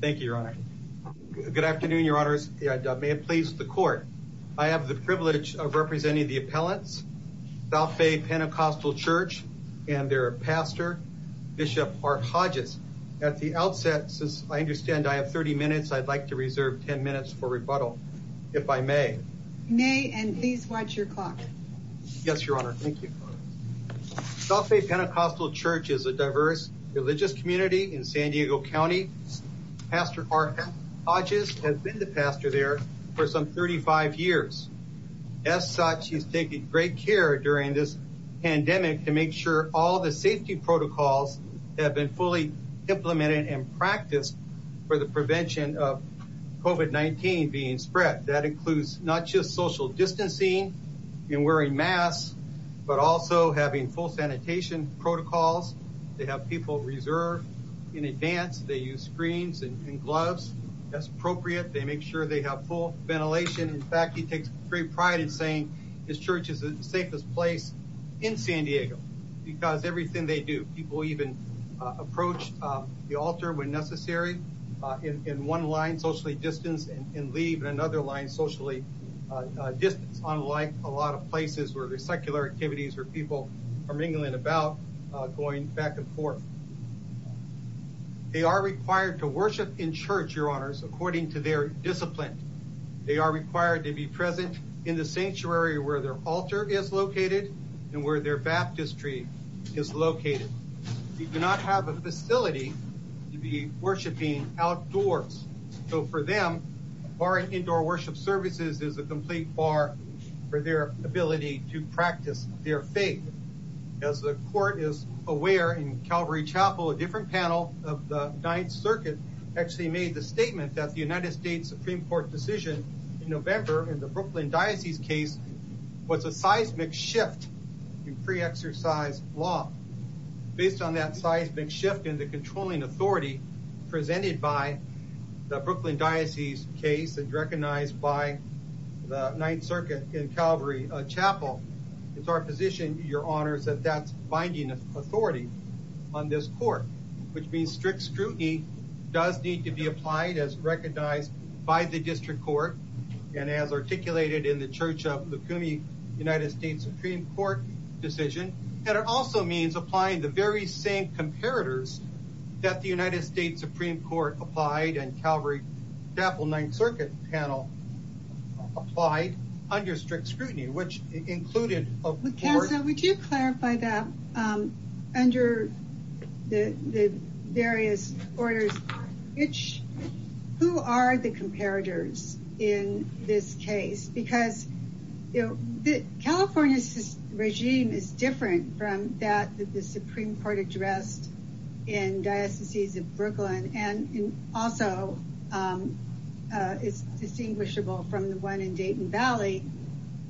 Thank you, Your Honor. Good afternoon, Your Honors. May it please the Court. I have the privilege of representing the appellants, South Bay Pentecostal Church, and their pastor, Bishop Mark Hodges. At the outset, since I understand I have 30 minutes, I'd like to reserve 10 minutes for rebuttal, if I may. You may, and please watch your clock. Yes, Your Honor. Thank you. South Bay Pentecostal Church is a diverse religious community in San Diego County. Pastor Mark Hodges has been the pastor there for some 35 years. As such, he's taking great care during this pandemic to make sure all the safety protocols have been fully implemented and practiced for the prevention of COVID-19 being spread. That includes not just social distancing and wearing masks, but also having full sanitation protocols. They have people reserved in advance. They use screens and gloves. That's appropriate. They make sure they have full ventilation. In fact, he takes great pride in saying his church is the safest place in San Diego because everything they do, people even approach the altar when necessary, in one line, socially distance, and leave in another line, socially distance, unlike a lot of places where there's secular activities where people are mingling about, going back and forth. They are required to worship in church, Your Honors, according to their discipline. They are required to be present in the sanctuary where their altar is located and where their baptistry is located. They do not have a facility to be worshiping outdoors, so for them, bar and indoor worship services is a complete bar for their ability to practice their faith. As the court is aware, in Calvary Chapel, a different panel of the Ninth Circuit actually made the statement that the United States Supreme Court decision in November in the Brooklyn Diocese case was a seismic shift in pre-exercise law. Based on that seismic shift in the controlling authority presented by the Brooklyn Diocese case and recognized by the Ninth Circuit in Calvary Chapel, it's our position, Your Honors, that that's binding authority on this court, which means strict scrutiny does need to be applied as recognized by the district court and as articulated in the Church of the CUNY United States Supreme Court decision, and it also means applying the very same comparators that the United States Supreme Court applied and Calvary Chapel Ninth Circuit panel applied under strict scrutiny, which in this case, because California's regime is different from that of the Supreme Court address in Diocese of Brooklyn and also is distinguishable from the one in Dayton Valley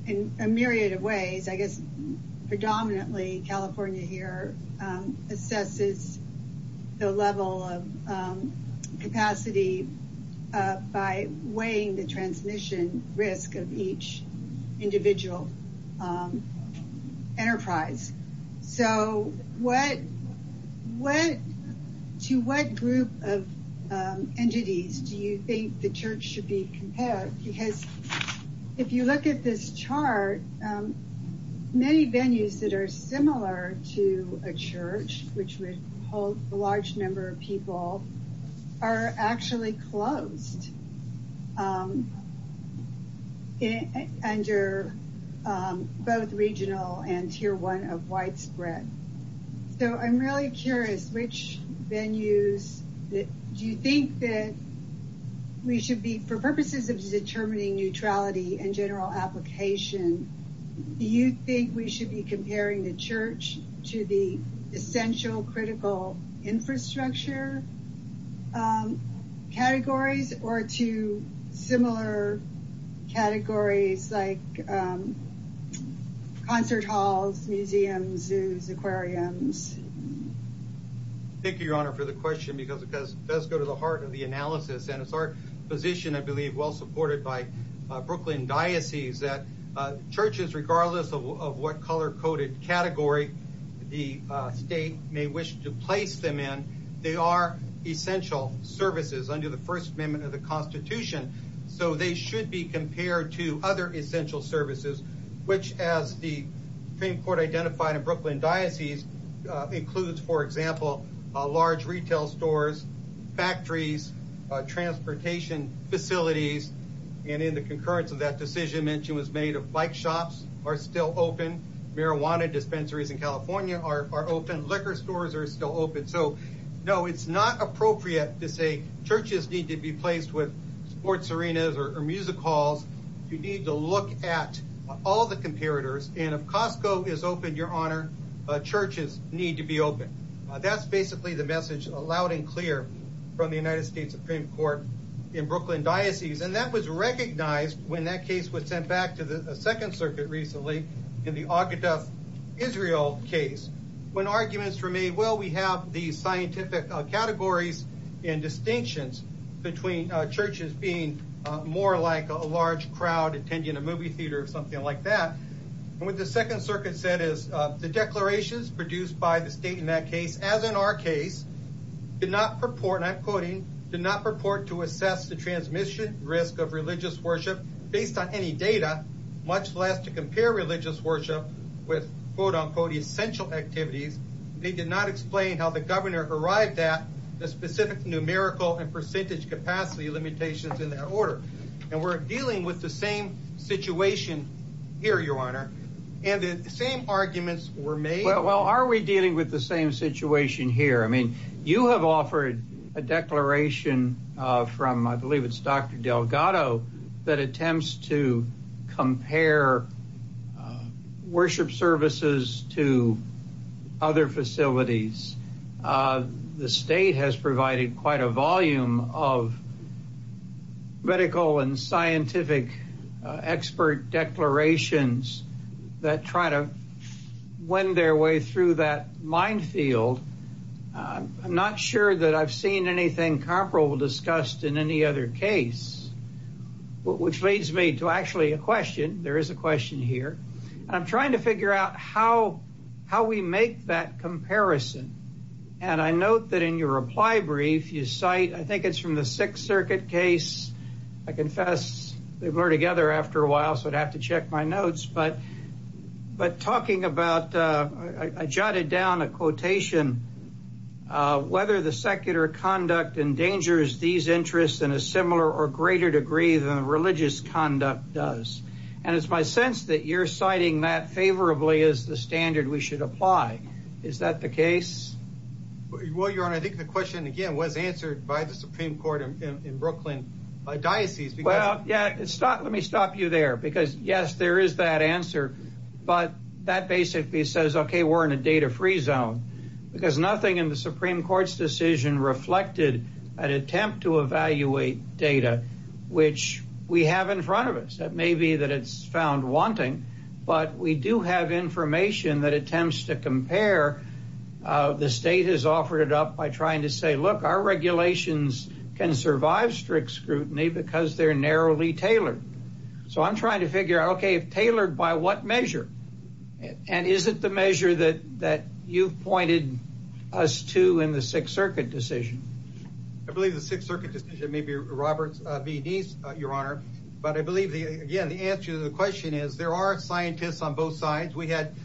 in a myriad of ways. I guess predominantly California here assesses the level of capacity by weighing the transmission risk of each individual enterprise. So to what group of entities do you think the church should be compared? Because if you look at this chart, many venues that are similar to a church, which would hold a large number of people, are actually closed under both regional and Tier 1 of widespread. So I'm really curious, which venues do you think that we should be, for purposes of determining neutrality and general application, do you think we should be comparing the church to the essential critical infrastructure categories or to similar categories like concert halls, museums, zoos, aquariums? Thank you, Your Honor, for the question because it does go to the heart of the analysis and it's our position, I believe, well supported by Brooklyn diocese that churches, regardless of what color coded category the state may wish to place them in, they are essential services under the First Amendment of the Constitution. So they should be compared to other essential services, which as the Supreme Court identified in Brooklyn diocese includes, for example, large retail stores, factories, transportation facilities, and in the concurrence of that decision, bike shops are still open, marijuana dispensaries in California are open, liquor stores are still open. So no, it's not appropriate to say churches need to be placed with sports arenas or music halls. You need to look at all the comparators, and if Costco is open, Your Honor, churches need to be open. That's basically the message, loud and clear, from the United States Supreme Court in Brooklyn diocese, and that was recognized when that case was sent back to the Second Circuit recently in the Akita Israel case. When arguments were made, well, we have the scientific categories and distinctions between churches being more like a large crowd attending a movie theater or something like that. What the Second Circuit said is the declarations produced by the state in that case did not purport, and I'm quoting, did not purport to assess the transmission risk of religious worship based on any data, much less to compare religious worship with quote-unquote essential activities. They did not explain how the governor arrived at the specific numerical and percentage capacity limitations in that order, and we're dealing with the same situation here, Your Honor, and the same arguments were made. Well, are we dealing with the same situation here? I mean, you have offered a declaration from, I believe it's Dr. Delgado, that attempts to compare worship services to other facilities. The state has provided quite a volume of medical and scientific expert declarations that try to wind their way through that minefield. I'm not sure that I've seen anything comparable discussed in any other case, which leads me to actually a question. There is a question here. I'm trying to figure out how we make that comparison, and I note that in your reply brief, you cite, I think it's from the Sixth Circuit case. I confess they were together after a while, so I'd have to check my notes, but talking about, I jotted down a quotation, whether the secular conduct endangers these interests in a similar or greater degree than religious conduct does, and it's my sense that you're citing that favorably as the standard we should apply. Is that the case? Well, Your Honor, I think the question, again, was answered by the Supreme Court in Brooklyn. Well, yeah, let me stop you there, because yes, there is that answer, but that basically says, okay, we're in a data-free zone, because nothing in the Supreme Court's decision reflected an attempt to evaluate data, which we have in front of us. That may be that it's found wanting, but we do have information that attempts to compare. The state has offered it up by trying to say, look, our regulations can survive strict scrutiny because they're narrowly tailored, so I'm trying to figure out, okay, tailored by what measure, and is it the measure that you pointed us to in the Sixth Circuit decision? I believe the Sixth Circuit decision may be Robert's v. Deese, Your Honor, but I believe, again, the answer to the question is there are scientists on both sides. We had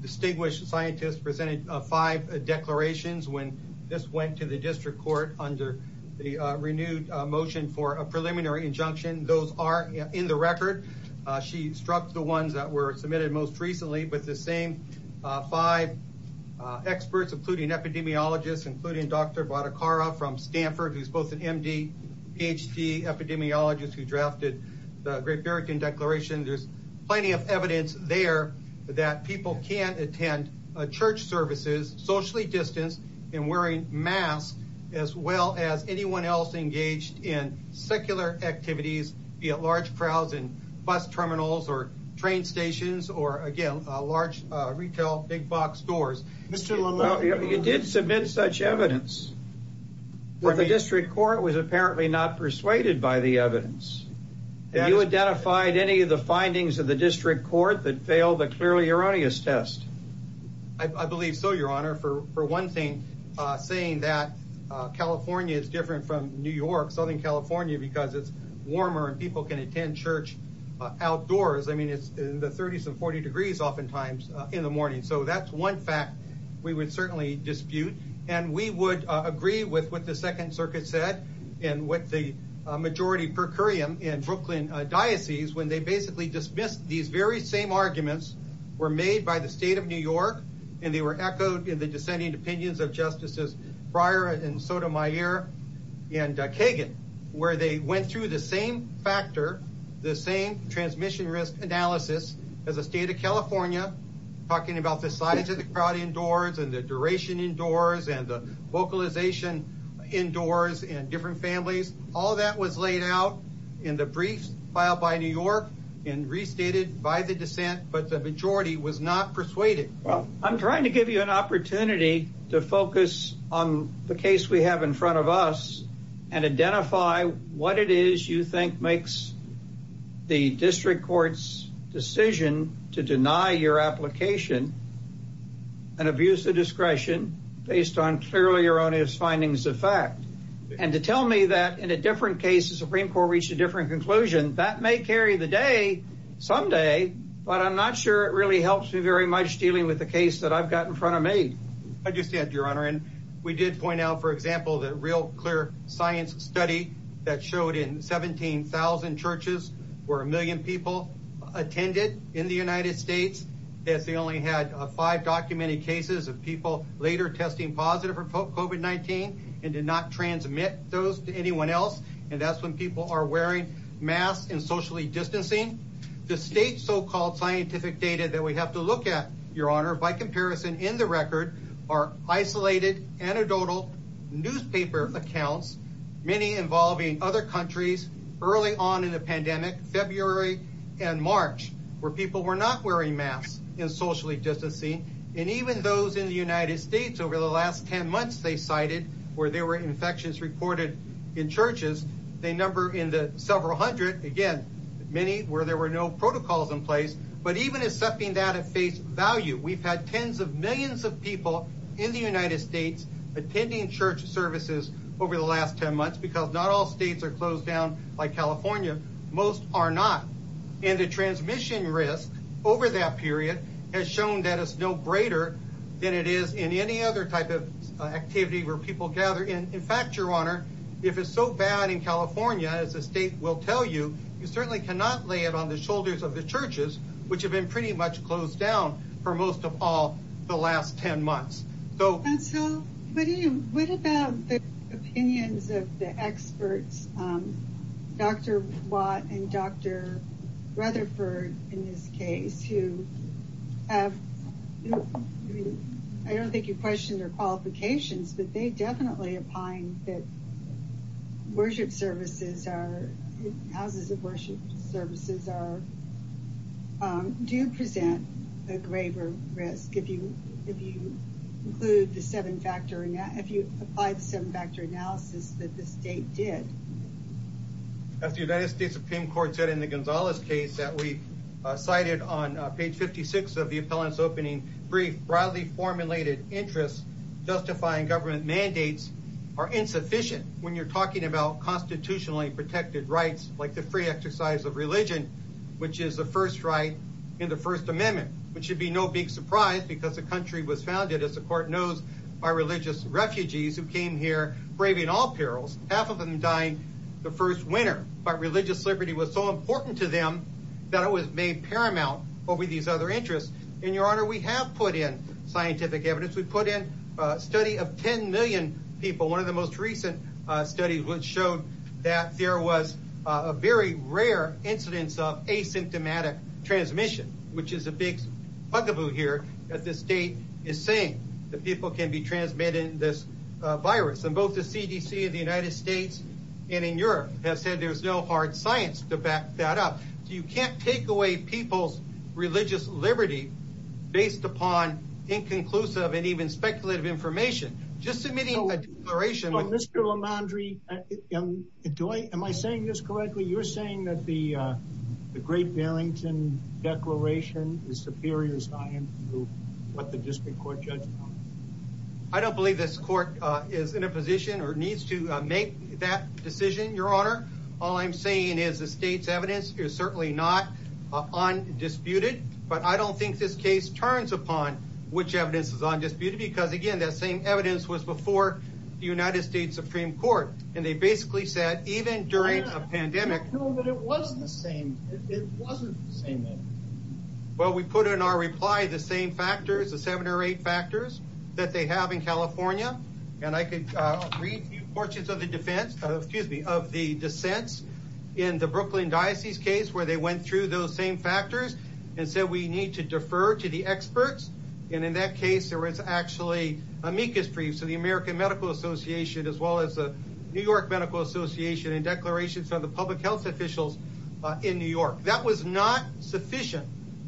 distinguished scientists presenting five declarations when this went to the district court under the renewed motion for a preliminary injunction. Those are in the record. She struck the ones that were submitted most recently, but the same five experts, including epidemiologists, including Dr. Bhattacharya from there's plenty of evidence there that people can't attend church services socially distanced and wearing masks as well as anyone else engaged in secular activities, be it large crowds in bus terminals or train stations or, again, large retail big box stores. You did submit such evidence but the district court was apparently not persuaded by the evidence. Have you identified any of the findings of the district court that failed the clearly erroneous test? I believe so, Your Honor, for one thing, saying that California is different from New York, Southern California, because it's warmer and people can attend church outdoors. I mean, it's in the 30s and 40 degrees oftentimes in the morning, so that's one fact we would certainly dispute, and we would agree with what the Second Circuit said and what the majority per curiam in Brooklyn diocese when they basically dismissed these very same arguments were made by the state of New York and they were echoed in the dissenting opinions of Justices Breyer and Sotomayor and Kagan, where they went through the same factor, the same transmission risk analysis as the state of California, talking about the size of the crowd indoors and the duration indoors and the vocalization indoors and different families. All that was laid out in the briefs filed by New York and restated by the dissent, but the majority was not persuaded. I'm trying to give you an opportunity to focus on the case we have in front of us and identify what it is you think makes the district court's decision to deny your application and abuse the discretion based on fairly erroneous findings of fact, and to tell me that in a different case the Supreme Court reached a different conclusion, that may carry the day someday, but I'm not sure it really helps you very much dealing with the case that I've got in front of me. I just said, Your Honor, we did point out, for example, the real clear science study that showed in 17,000 churches where a million people attended in the United States that they only had five documented cases of people later testing positive for COVID-19 and did not transmit those to anyone else, and that's when people are wearing masks and socially distancing. The state's so-called scientific data that we have to look at, Your Honor, by comparison in the record are isolated anecdotal newspaper accounts, many involving other countries early on in the pandemic, February and March, where people were not wearing masks and socially distancing, and even those in the United States over the last 10 months they cited where there were infections reported in even accepting that at face value. We've had tens of millions of people in the United States attending church services over the last 10 months because not all states are closed down like California. Most are not, and the transmission risk over that period has shown that it's no greater than it is in any other type of activity where people gather. In fact, Your Honor, if it's so bad in California, as the state will tell you, you certainly cannot lay it on the have been pretty much closed down for most of all the last 10 months. What about the opinions of the experts, Dr. Watt and Dr. Rutherford, in this case, who have, I don't think you questioned their qualifications, but they definitely opine that worship services are, houses of worship services do present a greater risk if you include the seven factor, if you apply the seven factor analysis that the state did. As the United States Supreme Court said in the Gonzales case that we cited on page 56 of the when you're talking about constitutionally protected rights, like the free exercise of religion, which is the first right in the first amendment, which should be no big surprise because the country was founded, as the court knows, by religious refugees who came here braving all perils. Half of them died the first winter, but religious liberty was so important to them that it was made paramount over these other interests. And Your Honor, we have put in scientific evidence. We put in a study of 10 million people. One of the most recent studies which showed that there was a very rare incidence of asymptomatic transmission, which is a big buckaboo here that the state is saying that people can be transmitted this virus. And both the CDC of the United States and in Europe have said there's no hard science to back that up. So you can't take away people's religious liberty based upon inconclusive and even speculative information. Just submitting a declaration... Mr. LaMandri, am I saying this correctly? You're saying that the Great Barrington Declaration is superior science to what the district court judges? I don't believe this court is in a position or needs to make that decision, Your Honor. All I'm saying is the state's evidence is certainly not undisputed, but I don't think this case turns upon which evidence is undisputed because, again, that same evidence was before the United States Supreme Court. And they basically said even during a pandemic... No, but it wasn't the same. Well, we put in our reply the same factors, the seven or eight factors that they have in the Brooklyn Diocese case where they went through those same factors and said we need to defer to the experts. And in that case, there was actually amicus briefs of the American Medical Association as well as the New York Medical Association and declarations of the public health officials in New York. That was not sufficient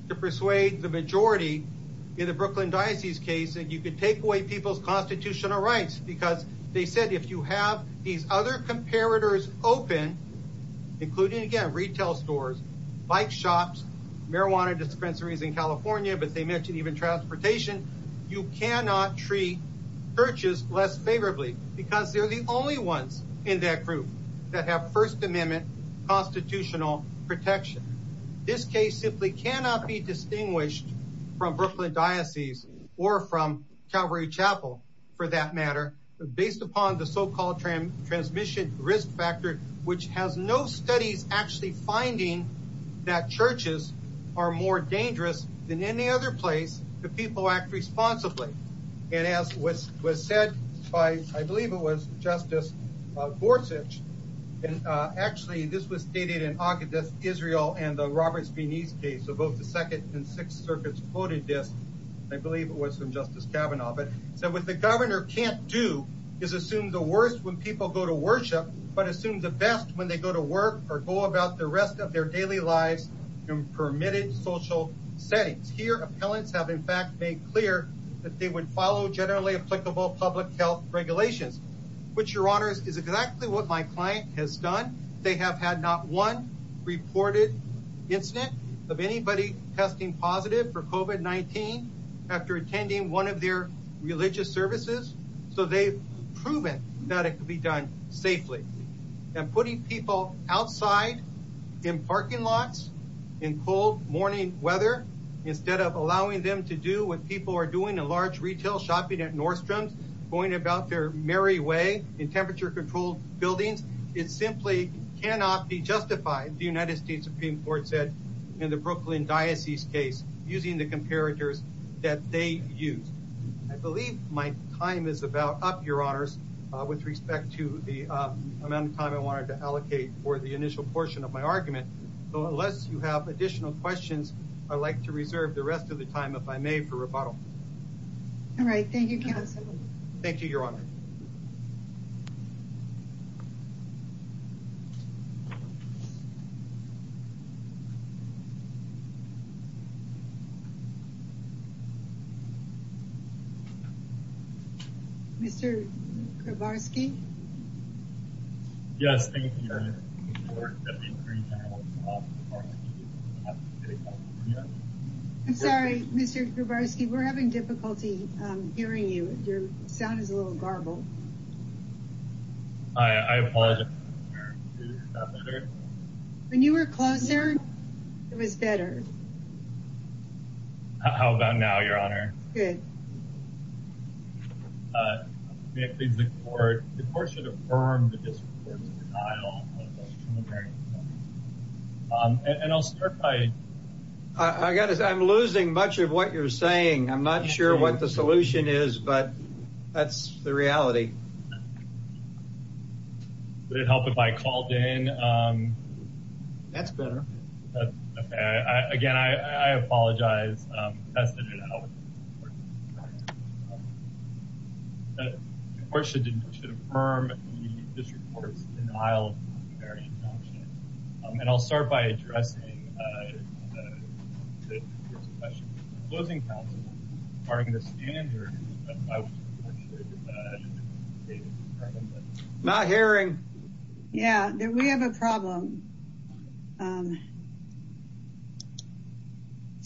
to persuade the majority in the Brooklyn Diocese case that you could take away people's constitutional rights because they said if you have these comparators open, including, again, retail stores, bike shops, marijuana dispensaries in California, but they mentioned even transportation, you cannot treat churches less favorably because they're the only ones in that group that have First Amendment constitutional protection. This case simply cannot be distinguished from Brooklyn Diocese or from Calvary Chapel, for that matter, based upon the so-called transmission risk factor, which has no studies actually finding that churches are more dangerous than any other place that people act responsibly. And as was said by, I believe it was Justice Gorsuch, and actually this was stated in Augustus Israel and the Robert Spenese case of both the Second and Sixth Circuits quoted this, I believe it was from Justice Kavanaugh, but said what the governor can't do is assume the worst when people go to worship, but assume the best when they go to work or go about the rest of their daily lives in permitted social settings. Here, appellants have in fact made clear that they would follow generally applicable public health regulations, which, Your Honors, is exactly what my client has done. They have had not one reported incident of anybody testing positive for COVID-19 after attending one of their religious services, so they've proven that it could be done safely. And putting people outside in parking lots in cold morning weather instead of allowing them to do what people are doing in large retail shopping at Nordstrom, going about their merry way in temperature-controlled buildings, it simply cannot be justified, the United States Supreme Court said in the Brooklyn Diocese case, using the comparators that they used. I believe my time is about up, Your Honors, with respect to the amount of time I wanted to allocate for the initial portion of my argument, so unless you have additional questions, I'd like to reserve the rest of the time. Mr. Kowarski? Yes, thank you. I'm sorry, Mr. Kowarski, we're having difficulty hearing you. You're sounding a little garbled. I apologize. When you were closer, it was better. How about now, Your Honor? I'm losing much of what you're saying. I'm not sure what the solution is, but that's the reality. Would it help if I called in? Again, I apologize. And I'll start by addressing the question. Not hearing. Yeah, we have a problem.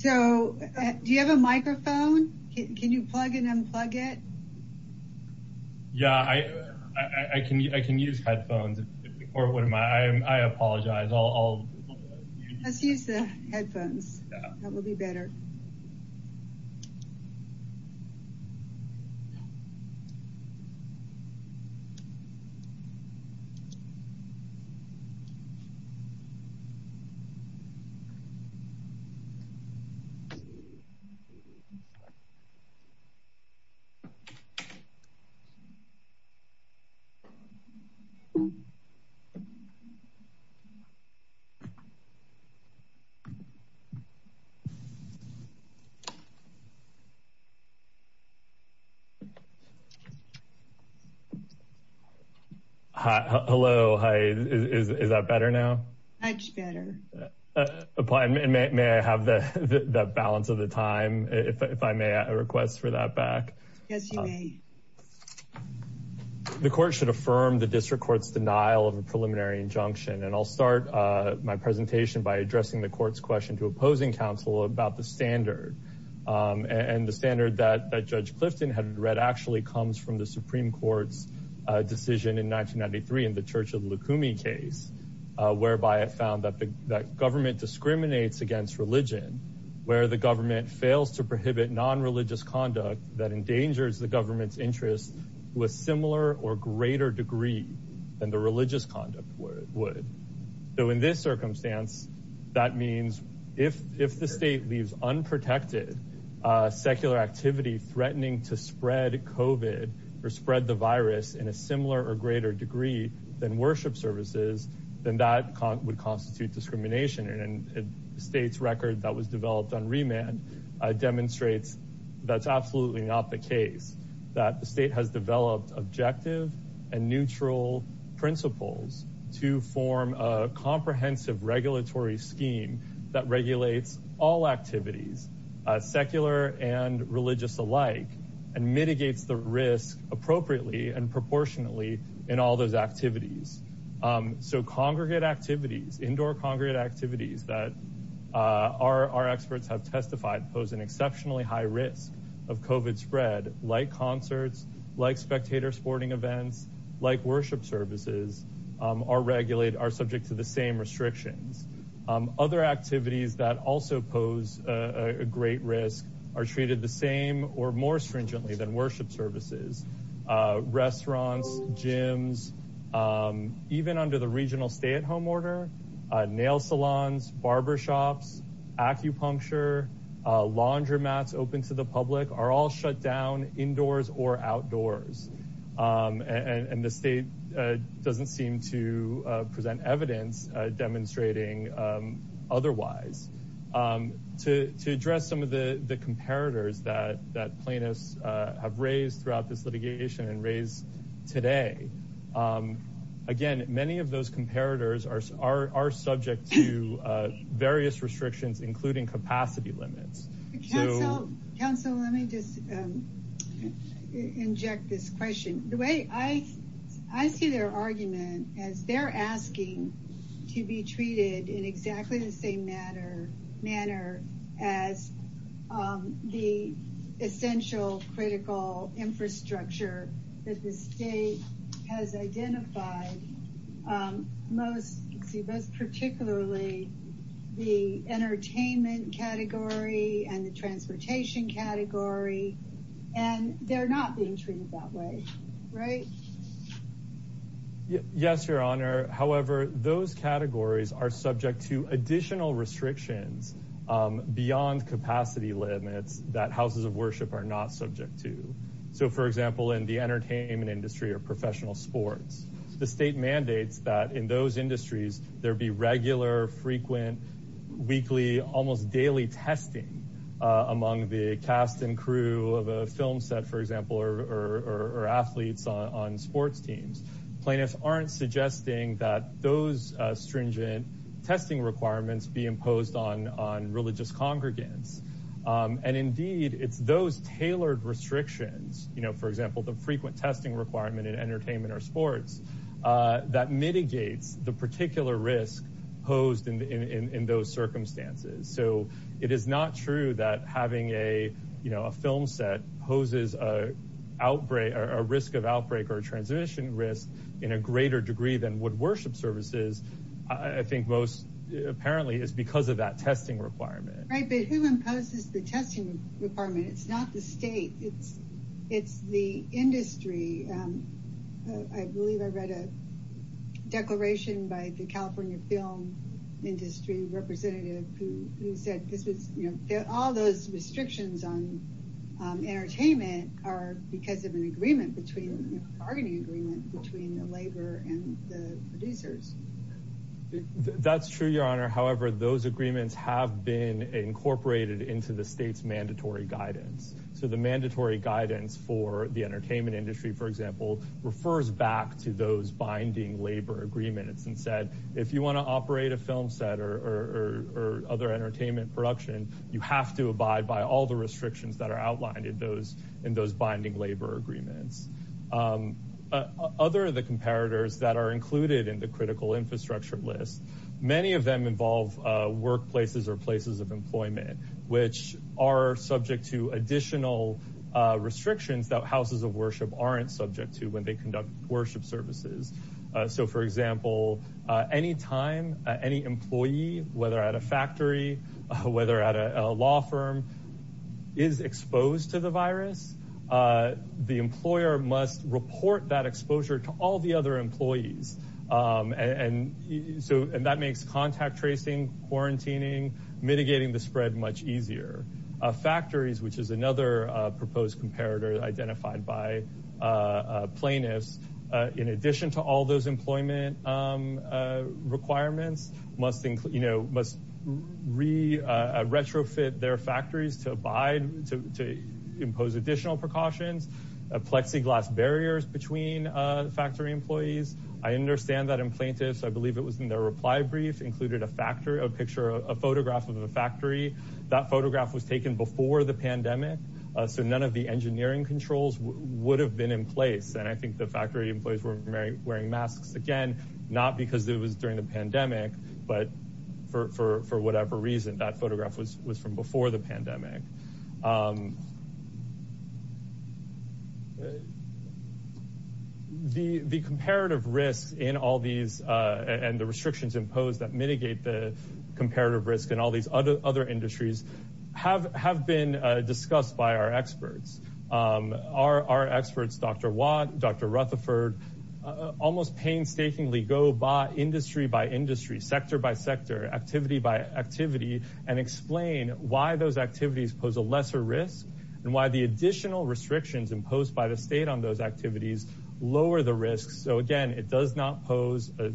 So, do you have a microphone? Can you plug it and unplug it? Yeah, I can use headphones. I apologize. I'll use the headphones. That will be better. Hi, hello, hi. Is that better now? Much better. May I have the balance of the time, if I may, I request for that back? Yes, you may. The court should affirm the district court's denial of a preliminary injunction, and I'll start my presentation by addressing the court's question to opposing counsel about the standard, and the standard that Judge Clifton had read actually comes from the Supreme Court's decision in 1993 in the Churchill-Lukumi case, whereby it found that government discriminates against religion where the government fails to prohibit non-religious conduct that endangers the government's interests with similar or greater degree than the religious conduct would. So, in this circumstance, that means if the state leaves unprotected secular activity threatening to spread COVID or spread the virus in a similar or greater degree than worship services, then that would constitute discrimination, and the state's record that was developed on remand demonstrates that's absolutely not the case, that the state has developed objective and neutral principles to form a comprehensive regulatory scheme that regulates all activities, secular and religious alike, and mitigates the risk appropriately and proportionately in all those that pose an exceptionally high risk of COVID spread, like concerts, like spectator sporting events, like worship services, are subject to the same restrictions. Other activities that also pose a great risk are treated the same or more stringently than worship services, restaurants, gyms, even under the regional stay-at-home order, nail salons, barber shops, acupuncture, laundromats open to the public are all shut down indoors or outdoors, and the state doesn't seem to present evidence demonstrating otherwise. To address some of the comparators that plaintiffs have raised throughout this litigation and raised today, again, many of those comparators are subject to various restrictions, including capacity limits. Council, let me just inject this question. I see their argument as they're asking to be treated in exactly the same manner as the essential critical infrastructure that the state has identified, particularly the entertainment category and the transportation category, and they're not being treated that way, right? Yes, Your Honor. However, those categories are additional restrictions beyond capacity limits that houses of worship are not subject to. For example, in the entertainment industry or professional sports, the state mandates that in those industries there be regular, frequent, weekly, almost daily testing among the cast and crew of a film set, for example, or athletes on sports teams. Plaintiffs aren't suggesting that those stringent testing requirements be imposed on religious congregants. Indeed, it's those tailored restrictions, for example, the frequent testing requirement in entertainment or sports, that mitigate the particular risk posed in those circumstances. It is not true that having a film set poses a risk of outbreak or in a greater degree than would worship services. I think most apparently it's because of that testing requirement. Right, but who imposes the testing requirement? It's not the state. It's the industry. I believe I read a declaration by the California film industry representative who said, you know, all those restrictions on entertainment are because of an agreement between the labor and the producers. That's true, your honor. However, those agreements have been incorporated into the state's mandatory guidance. So the mandatory guidance for the entertainment industry, for example, refers back to those binding labor agreements and said, if you want to operate a film set or other entertainment production, you have to abide by all the restrictions that are outlined in those binding labor agreements. Other of the comparators that are included in the critical infrastructure list, many of them involve workplaces or places of employment, which are subject to additional restrictions that houses of worship aren't subject to when they conduct worship services. So, for example, anytime any employee, whether at a factory, whether at a law firm, is exposed to the virus, the employer must report that exposure to all the other employees. And so that makes contact tracing, quarantining, mitigating the spread much easier. Factories, which is another proposed comparator identified by plaintiffs, in addition to all those employment requirements, must re-retrofit their factories to impose additional precautions, collecting glass barriers between factory employees. I understand that in plaintiffs, I believe it was in their reply brief, included a photograph of a factory. That photograph was taken before the pandemic. So none of the engineering controls would have been in place. And I think the factory employees were wearing masks, again, not because it was during the pandemic, but for whatever reason, that photograph was from before the pandemic. The comparative risk in all these and the restrictions imposed that mitigate the comparative risk in all these other industries have been discussed by our experts. Our experts, Dr. Watt, Dr. Rutherford, almost painstakingly go by industry by industry, sector by sector, activity by activity, and explain why those activities pose a lesser risk and why the additional restrictions imposed by the state on those activities lower the risk. So again, it does not pose a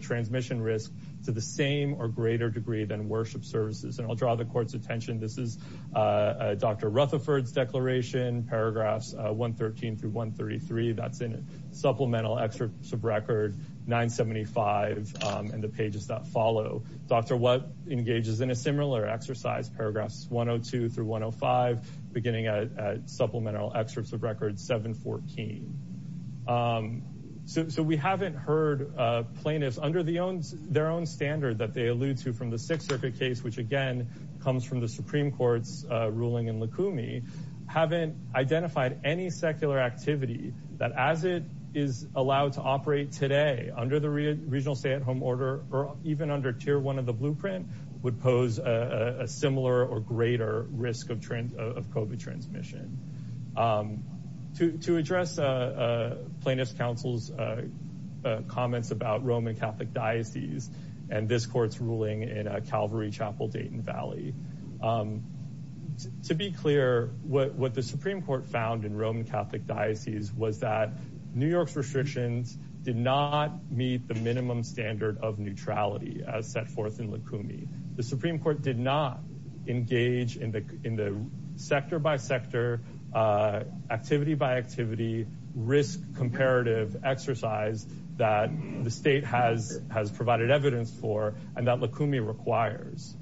transmission risk to the same or greater degree than worship services. I'll draw the court's attention. This is Dr. Rutherford's declaration, paragraphs 113 through 133. That's in Supplemental Excerpts of Record 975 and the pages that follow. Dr. Watt engages in a similar exercise, paragraphs 102 through 105, beginning at Supplemental Excerpts of Record 714. So we haven't heard plaintiffs under their own standard that they allude to from the Sixth Circuit case, which again comes from the Supreme Court's ruling in Lukumi, haven't identified any secular activity that as it is allowed to operate today under the regional stay-at-home order or even under Tier 1 of the blueprint would pose a similar or greater risk of COVID transmission. To address plaintiff's counsel's comments about Roman Catholic diocese and this court's ruling in Calvary Chapel, Dayton Valley. To be clear, what the Supreme Court found in Roman Catholic diocese was that New York's restrictions did not meet the minimum standard of neutrality as set forth in Lukumi. The Supreme Court did not engage in the sector-by-sector, activity-by-activity risk comparative exercise that the state has provided evidence for and Lukumi requires.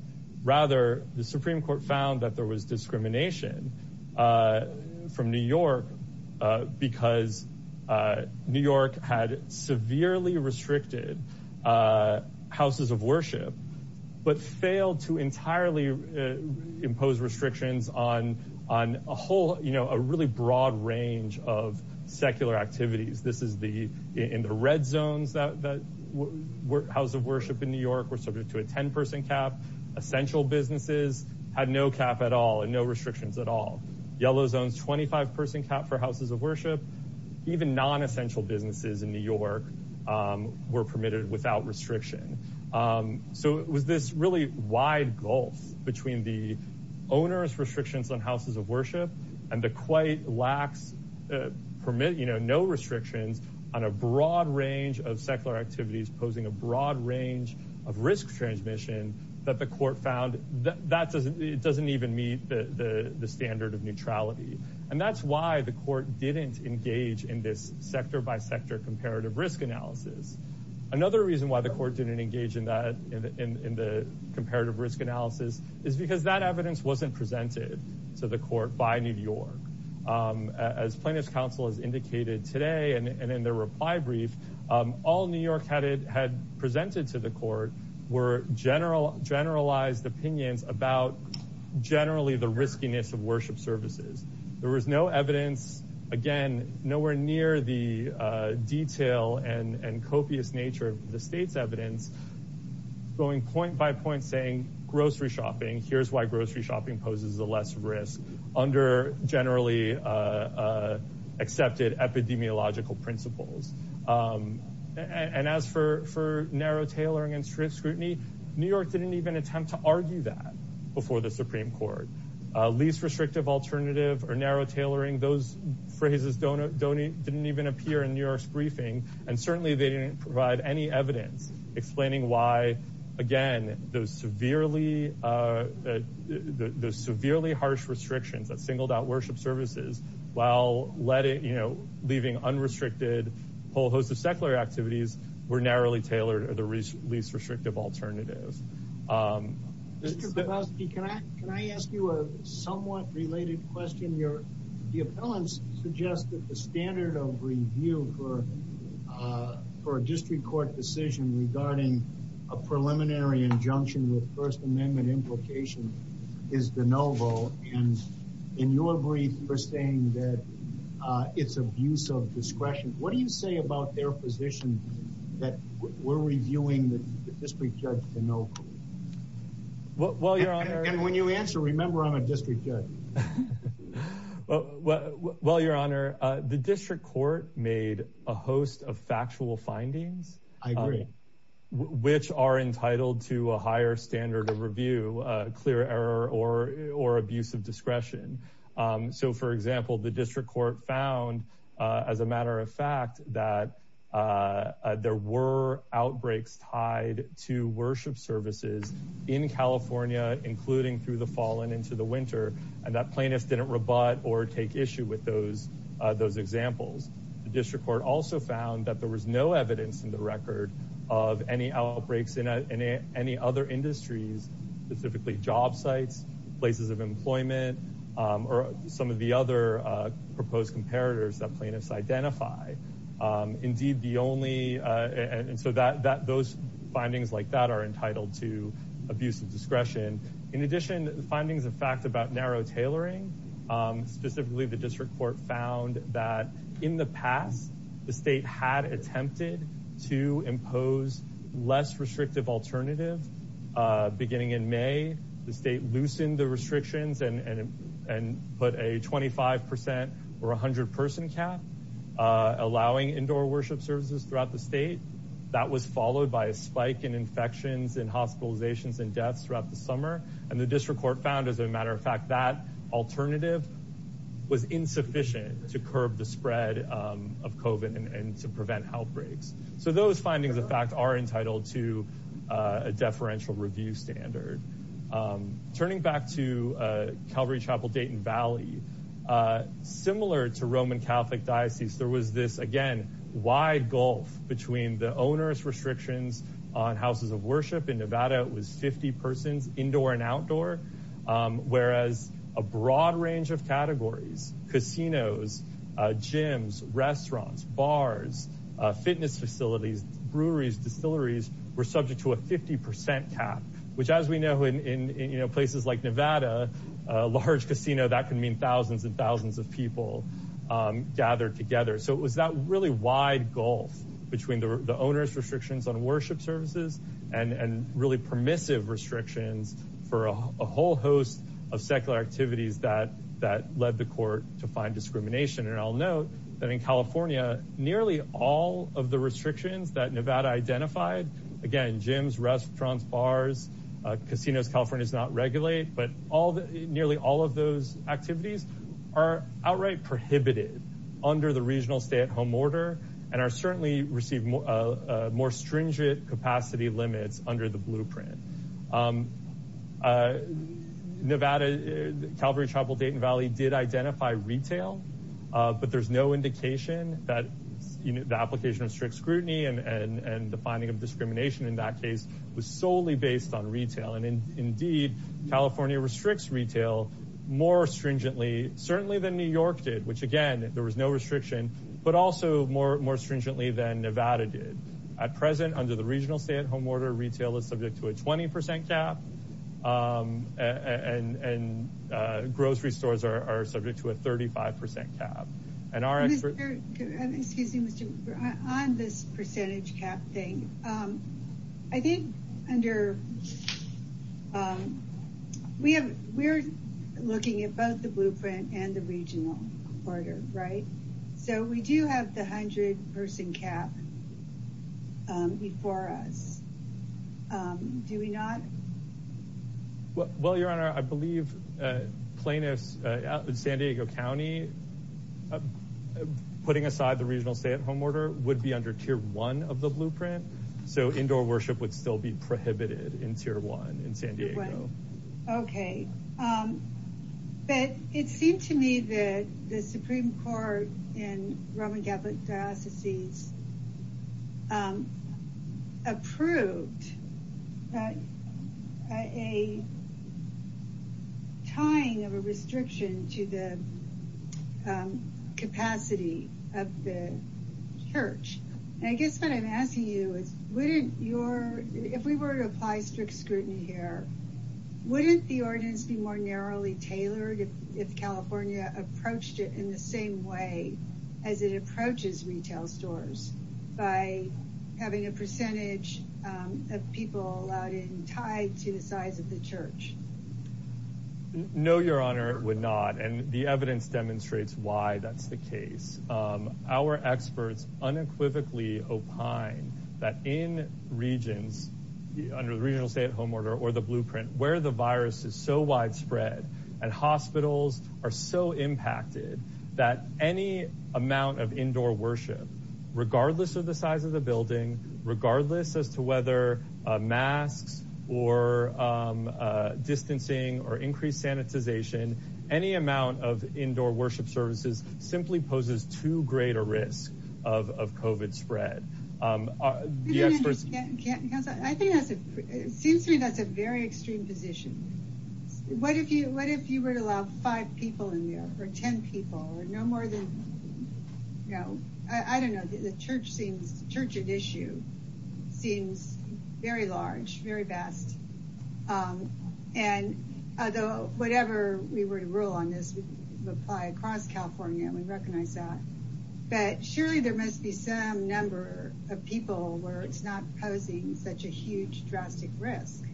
Rather, the Supreme Court found that there was discrimination from New York because New York had severely restricted houses of worship but failed to entirely impose restrictions on a whole, you know, a really broad range of secular activities. This is in the red zones that house of worship in New York were subject to a 10-person cap. Essential businesses had no cap at all and no restrictions at all. Yellow zones, 25-person cap for houses of worship. Even non-essential businesses in New York were permitted without restriction. So it was this really wide gulf between the owner's restrictions on houses of on a broad range of secular activities posing a broad range of risk transmission that the court found that it doesn't even meet the standard of neutrality. And that's why the court didn't engage in this sector-by-sector comparative risk analysis. Another reason why the court didn't engage in that in the comparative risk analysis is because that evidence wasn't presented to the court by New York. As plaintiff's counsel has indicated today and in their reply brief, all New York had presented to the court were generalized opinions about generally the riskiness of worship services. There was no evidence, again, nowhere near the detail and copious nature of the state's evidence going point by point saying grocery shopping, here's why grocery shopping poses the less risk under generally accepted epidemiological principles. And as for narrow tailoring and strict scrutiny, New York didn't even attempt to argue that before the Supreme Court. Least restrictive alternative or narrow tailoring, those phrases didn't even appear in New York's briefing. And certainly they didn't provide any the severely harsh restrictions that singled out worship services while leaving unrestricted whole host of secular activities were narrowly tailored as a least restrictive alternative. Mr. Bielanski, can I ask you a somewhat related question? The appellants suggested the standard of review for a district court decision regarding a preliminary injunction with First Amendment implications is de novo. And in your brief, you were saying that it's abuse of discretion. What do you say about their position that we're reviewing the district judge de novo? And when you answer, remember I'm a district judge. Well, Your Honor, the district court made a host of factual findings, I agree, which are entitled to a higher standard of review, clear error or abuse of discretion. So for example, the district court found as a matter of fact that there were outbreaks tied to worship services in California, including through the fall and into the winter. And that plaintiff didn't rebut or take issue with those examples. The district court also found that there was no evidence in the record of any outbreaks in any other industry, specifically job sites, places of employment, or some of the other proposed comparators that plaintiffs identify. Indeed, the only... And so those findings like that are entitled to abuse of discretion. In addition, findings and facts about narrow tailoring, specifically the district court found that in the past, the state had attempted to impose less restrictive alternative. Beginning in May, the state loosened the restrictions and put a 25% or 100 person cap, allowing indoor worship services throughout the state. That was followed by a spike in infections and hospitalizations and deaths throughout the summer. And the district court found as a matter of fact, that alternative was insufficient to curb the spread of COVID and to prevent outbreaks. So those findings, in fact, are entitled to a deferential review standard. Turning back to Calvary Chapel, Dayton Valley, similar to Roman Catholic diocese, there was this, again, wide gulf between the onerous restrictions on houses of worship. In Nevada, it was 50 persons indoor and outdoor, whereas a broad range of categories, casinos, gyms, restaurants, bars, fitness facilities, breweries, distilleries were subject to a 50% cap, which as we know in places like Nevada, a large casino, that can mean thousands and thousands of people gathered together. So it was that really wide gulf between the onerous restrictions on worship services and really permissive restrictions for a whole host of secular activities that led the court to find discrimination. And I'll note that in California, nearly all of the restrictions that Nevada identified, again, gyms, restaurants, bars, casinos, California does not regulate, but nearly all of those activities are outright prohibited under the regional stay-at-home order and are certainly receiving a more stringent capacity limit under the blueprint. Nevada, Calvary Chapel, Dayton Valley did identify retail, but there's no indication that the application of strict scrutiny and the finding of discrimination in that case was solely based on retail. And indeed, California restricts retail more stringently, certainly than New York did, which again, there was no restriction, but also more stringently than Nevada did. At present, under the regional stay-at-home order, retail is subject to a 20% cap and grocery stores are subject to a 35% cap. And our... Excuse me, on this percentage cap thing, I think under... We're looking at both the blueprint and the regional orders, right? So we do have the 100 person cap before us. Do we not? Well, your honor, I believe plaintiffs in San Diego County, putting aside the regional stay-at-home order, would be under tier one of the blueprint. So indoor worship would still be prohibited in tier one in San Diego. Okay, but it seemed to me that the Supreme Court in Roman Catholic Diocese approved a tying of a restriction to the capacity of the church. I guess what I'm asking you is, if we were to apply strict scrutiny here, wouldn't the ordinance be more narrowly tailored if California approached it in the same way as it approaches retail stores by having a percentage of people allowed in tied to the church? No, your honor, it would not. And the evidence demonstrates why that's the case. Our experts unequivocally opine that in regions, under the regional stay-at-home order or the blueprint, where the virus is so widespread and hospitals are so impacted that any amount of indoor worship, regardless of the size of the building, regardless as to whether a mass or distancing or increased sanitization, any amount of indoor worship services simply poses too great a risk of COVID spread. I think that's a very extreme position. What if you were to allow five people in there or ten people and no more than, I don't know, the church's issue seems very large, very vast. And whatever we were to rule on this would apply across California. We recognize that. But surely there must be some number of people where it's not posing such a huge drastic risk.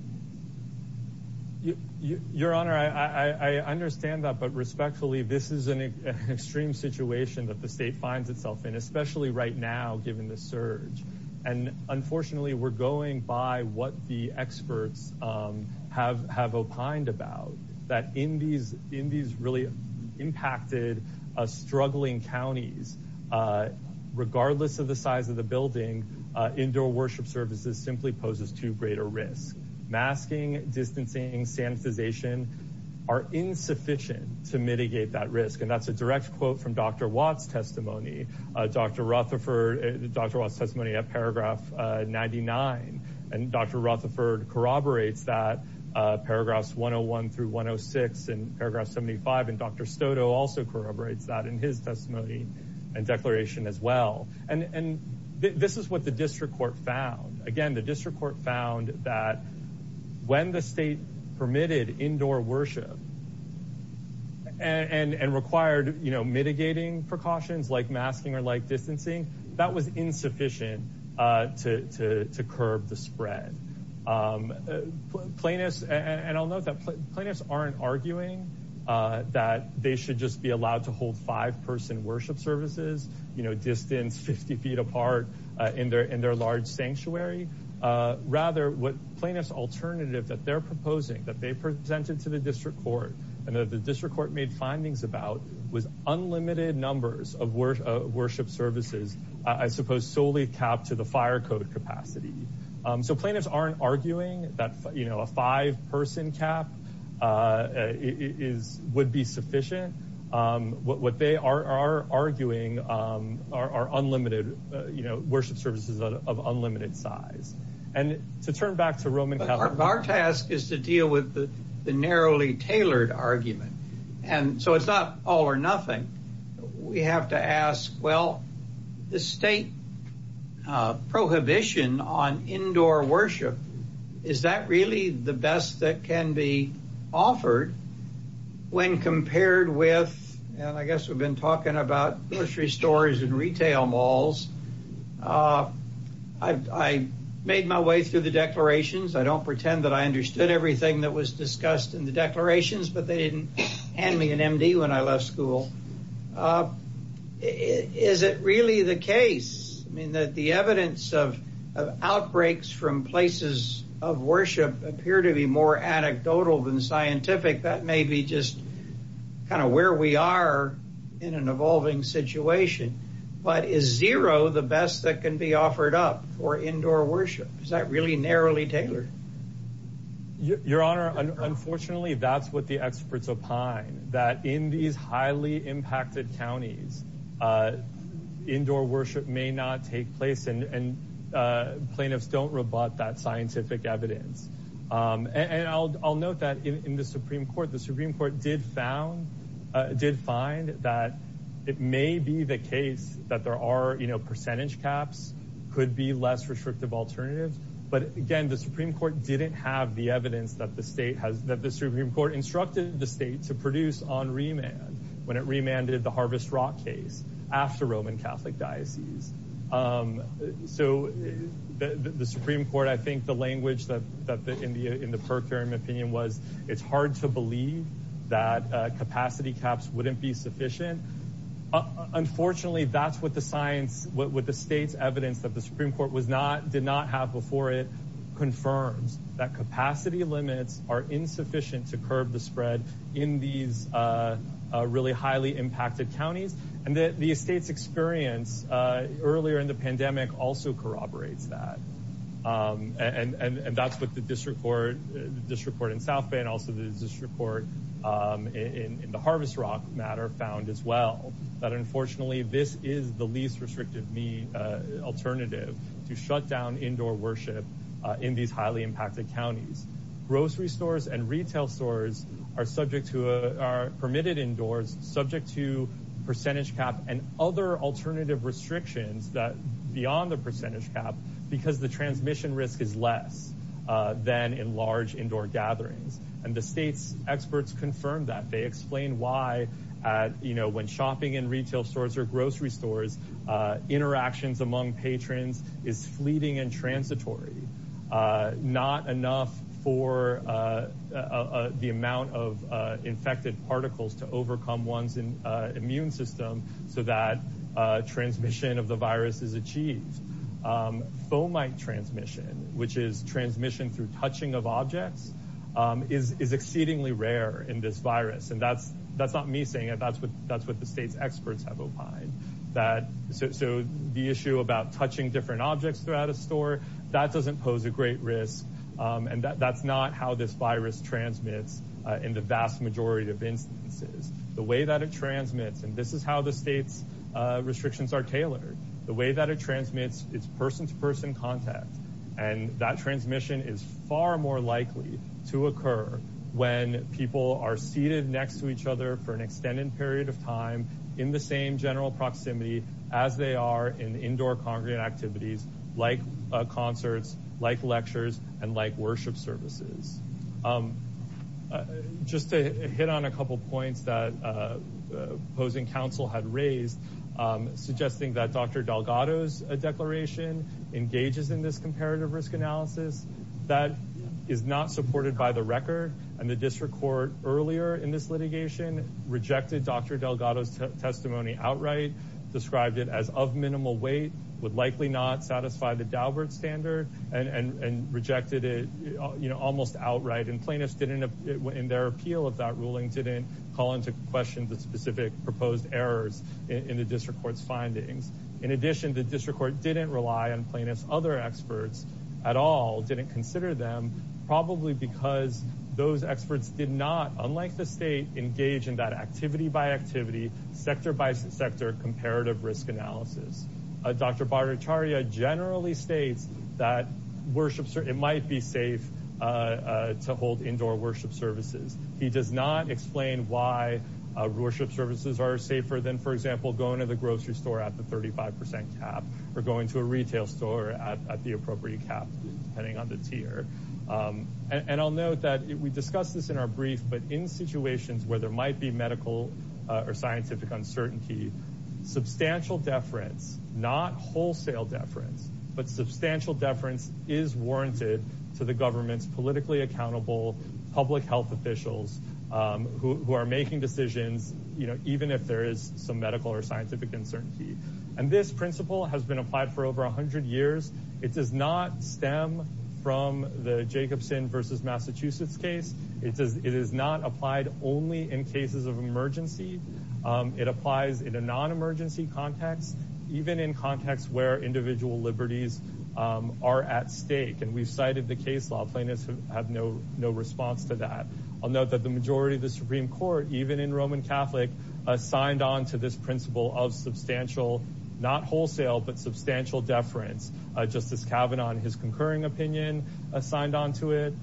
Your honor, I understand that, but respectfully, this is an extreme situation that the state finds itself in, especially right now, given the surge. And unfortunately, we're going by what the experts have opined about, that in these really impacted, struggling counties, regardless of the size of the building, indoor worship services simply poses too greater risk. Masking, distancing, sanitization are insufficient to mitigate that risk. And that's a direct quote from Dr. Watt's testimony. Dr. Watt's testimony at paragraph 99. And Dr. Rutherford corroborates that, paragraphs 101 through 106 and paragraph 75. And Dr. Soto also corroborates that in his testimony and declaration as well. And this is what the district court found. Again, the district found that when the state permitted indoor worship and required mitigating precautions like masking or like distancing, that was insufficient to curb the spread. Plaintiffs, and I'll note that plaintiffs aren't arguing that they should just be allowed to hold five-person worship services, you know, distance 50 feet apart in their large sanctuary. Rather, what plaintiffs alternative that they're proposing, that they presented to the district court, and that the district court made findings about was unlimited numbers of worship services, I suppose, solely capped to the fire code capacity. So plaintiffs aren't arguing that, you know, a five-person cap would be sufficient. What they are arguing are unlimited, you know, worship services of unlimited size. And to turn back to Roman... But our task is to deal with the narrowly tailored argument. And so it's not all or nothing. We have to ask, well, the state prohibition on indoor worship, is that really the best that can be offered when compared with... And I guess we've been talking about grocery stores and retail malls. I made my way through the declarations. I don't pretend that I understood everything that was discussed in the declarations, but they didn't hand me an MD when I left school. Is it really the case, I mean, that the evidence of outbreaks from places of worship appear to be more anecdotal than scientific? That may be just kind of where we are in an evolving situation. But is zero the best that can be offered up for indoor worship? Is that really narrowly tailored? Your Honor, unfortunately, that's what the experts opine, that in these highly impacted counties, indoor worship may not take place and plaintiffs don't rebut that scientific evidence. And I'll note that in the Supreme Court, the Supreme Court did find that it may be the case that there are, you know, percentage caps could be less restrictive alternatives. But again, the Supreme Court didn't have the evidence that the Supreme Court instructed the state to produce on remand when it remanded the Harvest Rock case after Roman Catholic diocese. So the Supreme Court, I think the language that in the Perkh term opinion was, it's hard to believe that capacity caps wouldn't be sufficient. Unfortunately, that's what the state's evidence that the Supreme Court did not have before it confirmed, that capacity limits are insufficient to curb the spread in these really highly impacted counties. And the state's experience earlier in the pandemic also corroborates that. And that's what the district court in South Bay and also the district court in the Harvest Rock matter found as well, that unfortunately, this is the least restrictive mean alternative to shut down indoor worship in these highly impacted counties. Grocery stores and retail stores are permitted indoors, subject to percentage cap and other alternative restrictions that beyond the percentage cap, because the transmission risk is less than in large indoor gatherings. And the state's experts confirm that they explain why, you know, when shopping in retail stores or grocery stores, interactions among patrons is fleeting and transitory, not enough for the amount of infected particles to overcome one's immune system so that transmission of the virus is achieved. Fomite transmission, which is transmission through touching of objects, is exceedingly rare in this virus. And that's not me saying it, that's what the state's experts have opined. So the issue about touching different objects throughout a store, that doesn't pose a great risk. And that's not how this virus transmits in the vast majority of instances. The way that transmits, and this is how the state's restrictions are tailored, the way that it transmits is person-to-person contact. And that transmission is far more likely to occur when people are seated next to each other for an extended period of time in the same general proximity as they are in indoor congregate activities, like concerts, like lectures, and like worship services. Just to couple points that opposing counsel had raised, suggesting that Dr. Delgado's declaration engages in this comparative risk analysis, that is not supported by the record. And the district court earlier in this litigation rejected Dr. Delgado's testimony outright, described it as of minimal weight, would likely not satisfy the Daubert standard, and rejected it, you know, almost outright. And plaintiffs didn't, in their appeal of that ruling, didn't call into question the specific proposed errors in the district court's findings. In addition, the district court didn't rely on plaintiffs' other experts at all, didn't consider them, probably because those experts did not, unlike the state, engage in that activity by activity, sector by sector comparative risk analysis. Dr. Bhattacharya generally states that worship, it might be safe to hold indoor worship services. He does not explain why worship services are safer than, for example, going to the grocery store at the 35% cap, or going to a retail store at the appropriate cap, depending on the tier. And I'll note that we discussed this in our brief, but in situations where there might be medical or scientific uncertainty, substantial deference, not wholesale deference, but substantial deference is warranted to the government's politically accountable public health officials who are making decisions, you know, even if there is some medical or scientific uncertainty. And this principle has been applied for over 100 years. It does not stem from the Jacobson versus Massachusetts case. It is not applied only in cases of emergency. It applies in a non-emergency context, even in contexts where individual liberties are at stake. And we've cited the case law plaintiffs have no response to that. I'll note that the majority of the Supreme Court, even in Roman Catholic, signed on to this principle of substantial, not wholesale, but substantial deference. Justice Kavanaugh, in his concurring opinion, signed on to it.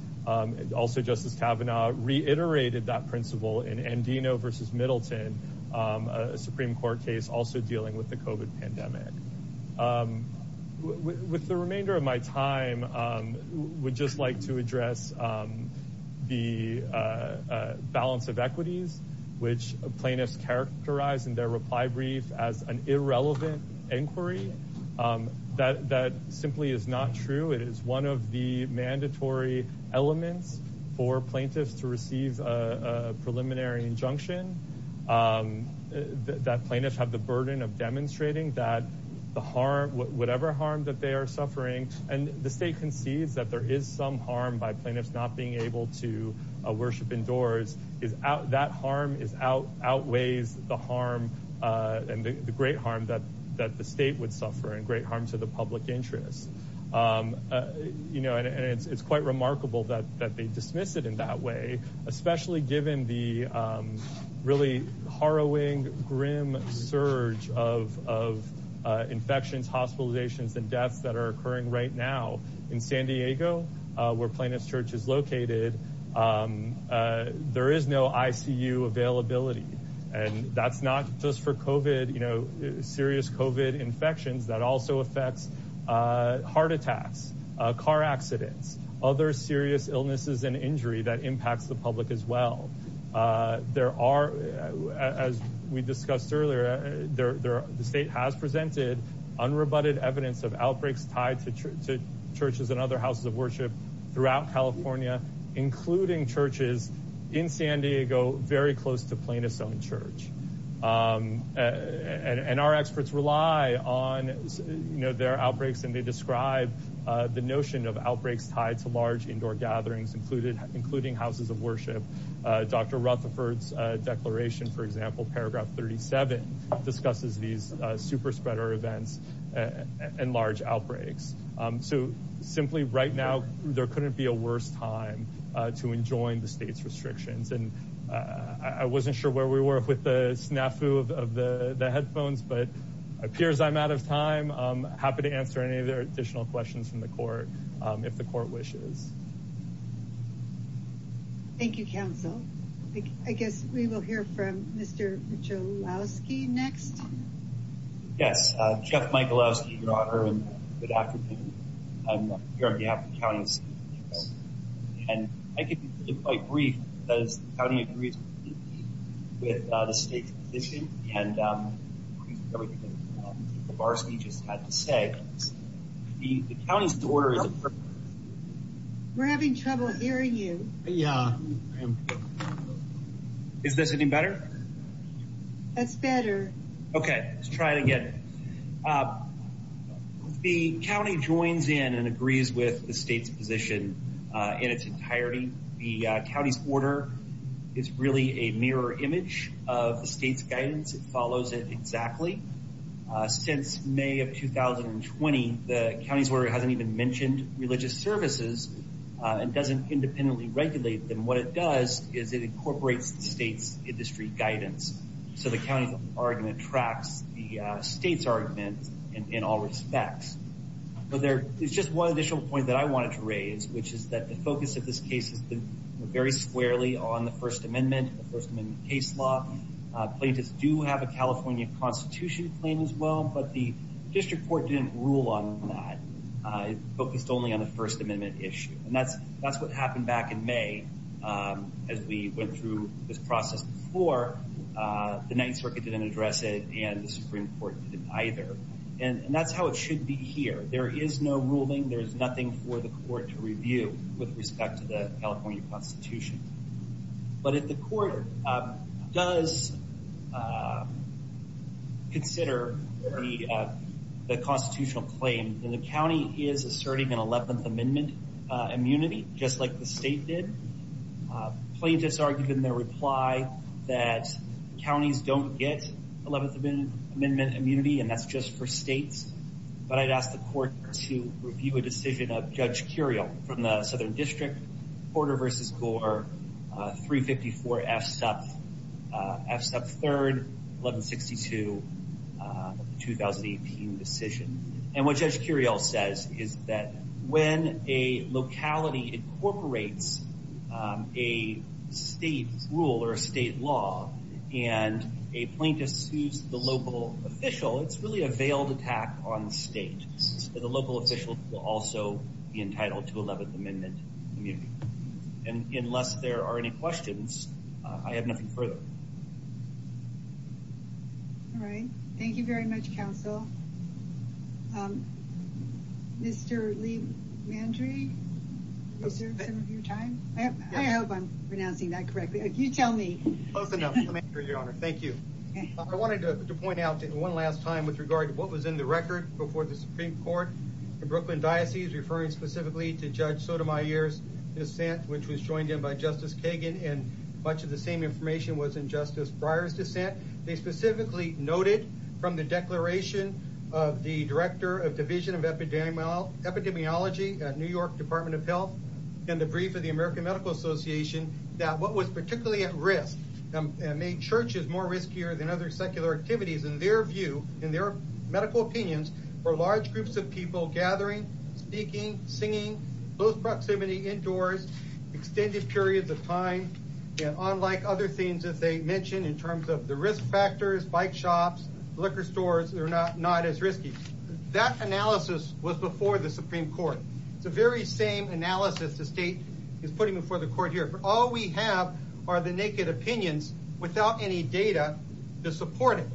Also, Justice Kavanaugh reiterated that principle in Andino versus Middleton, a Supreme Court case also dealing with the COVID pandemic. With the remainder of my time, we'd just like to address the balance of equity, which plaintiffs characterize in their reply brief as an irrelevant inquiry. That simply is not true. It is one of the mandatory elements for plaintiffs to receive a preliminary injunction. That plaintiffs have the burden of demonstrating whatever harm that they are suffering. And the state concedes that there is some harm by plaintiffs being able to worship indoors. That harm outweighs the great harm that the state would suffer and great harm to the public interest. It's quite remarkable that they dismissed it in that way, especially given the really harrowing, grim surge of infections, hospitalizations, and deaths that are occurring right now. In San Diego, where Plaintiff's Church is located, there is no ICU availability. And that's not just for COVID, you know, serious COVID infections that also affect heart attacks, car accidents, other serious illnesses and injury that impact the public as well. As we discussed earlier, the state has presented unrebutted evidence of outbreaks tied to churches and other houses of worship throughout California, including churches in San Diego very close to Plaintiff's own church. And our experts rely on their outbreaks, and they Dr. Rutherford's declaration, for example, paragraph 37, discusses these super spreader events and large outbreaks. So simply right now, there couldn't be a worse time to enjoin the state's restrictions. And I wasn't sure where we were with the snafu of the headphones, but appears I'm out of time. I'm happy to answer any additional questions from the court, if the court wishes. Thank you, counsel. I guess we will hear from Mr. Michalowski next. Yes. Jeff Michalowski, your honor, and good afternoon. I'm here on behalf of the county. And I can be quite brief, as the county agrees with the state's position. And we're having trouble hearing you. Is this any better? That's better. Okay. Let's try it again. The county joins in and agrees with the state's position in its entirety. The county's order is really a mirror image of the state's guidance. It follows it exactly. Since May of 2020, the county's order hasn't even mentioned religious services and doesn't independently regulate them. What it does is it incorporates the state's industry guidance. So the county's argument tracks the state's argument in all respects. So there's just one additional point that I wanted to raise, which is that the focus of this case is very squarely on the First Amendment and the First Amendment case law. Plaintiffs do have a California Constitution claim as well, but the district court didn't rule on that. It focused only on the First Amendment issue. And that's what happened back in May as we went through this process before. The Ninth Circuit didn't address it and the Supreme Court didn't either. And that's how it should be here. There is no ruling. There is nothing for the court to review with respect to the California Constitution. But if the court does consider the constitutional claim, the county is asserting an Eleventh Amendment immunity, just like the state did. Plaintiffs argued in their reply that counties don't get Eleventh Amendment immunity and that's just for Porter v. Gore, 354 F. Sub. F. Sub. 3rd, 1162, 2018 decision. And what Judge Curiel says is that when a locality incorporates a state rule or a state law and a plaintiff sues the local official, it's really a veiled attack on the state. So the local official will also be entitled to unless there are any questions. I have nothing further. All right. Thank you very much, counsel. Mr. LeMandri, is there some of your time? I hope I'm pronouncing that correctly. You tell me. Thank you. I wanted to point out one last time with regard to what was in the record before the Supreme Court. The Brooklyn Diocese referred specifically to Judge Sotomayor's which was joined in by Justice Kagan and much of the same information was in Justice Breyer's dissent. They specifically noted from the declaration of the Director of Division of Epidemiology at New York Department of Health in the brief of the American Medical Association that what was particularly at risk and made churches more riskier than other secular activities in their view, in their medical opinions, were large groups of people gathering, speaking, singing, close proximity indoors, extended periods of time, and unlike other things that they mentioned in terms of the risk factors, bike shops, liquor stores, they're not as risky. That analysis was before the Supreme Court. The very same analysis the state is putting before the court here. All we have are the naked opinions without any data to support it.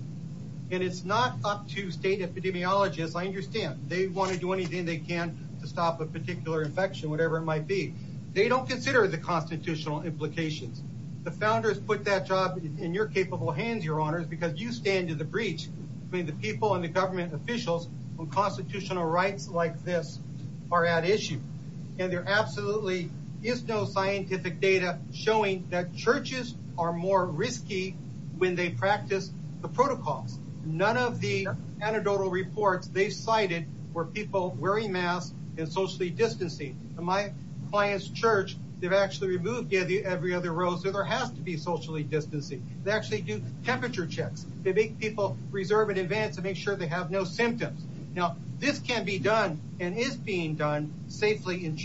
And it's not up to state epidemiologists. I understand. They want to do anything they can to stop a particular infection, whatever it might be. They don't consider the constitutional implications. The founders put that job in your capable hands, Your Honors, because you stand as a breach between the people and the government and officials when constitutional rights like this are at issue. And there absolutely is no scientific data showing that churches are more risky when they practice the protocol. None of the anecdotal reports they cited were people wearing masks and socially distancing. In my client's church, they've actually removed every other rosary. There has to be socially distancing. They actually do temperature checks. They make people reserve in advance to make sure they have no symptoms. Now, this can be done and is being done safely in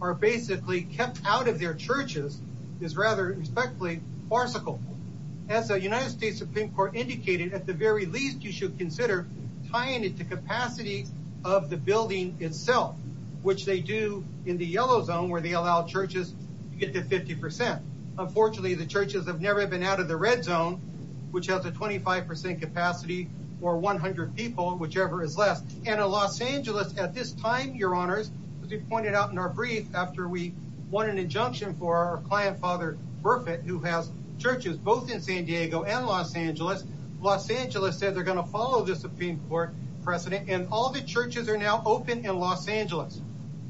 are basically kept out of their churches, is rather respectfully farcical. As the United States Supreme Court indicated, at the very least, you should consider tying it to capacity of the building itself, which they do in the yellow zone where they allow churches to get to 50%. Unfortunately, the churches have never been out of the red zone, which has a 25% capacity for 100 people, whichever is left. And in Los Angeles at this time, Your Honors, as you pointed out in our brief after we won an injunction for our client, Father Berkman, who has churches both in San Diego and Los Angeles, Los Angeles says they're going to follow the Supreme Court precedent and all the churches are now open in Los Angeles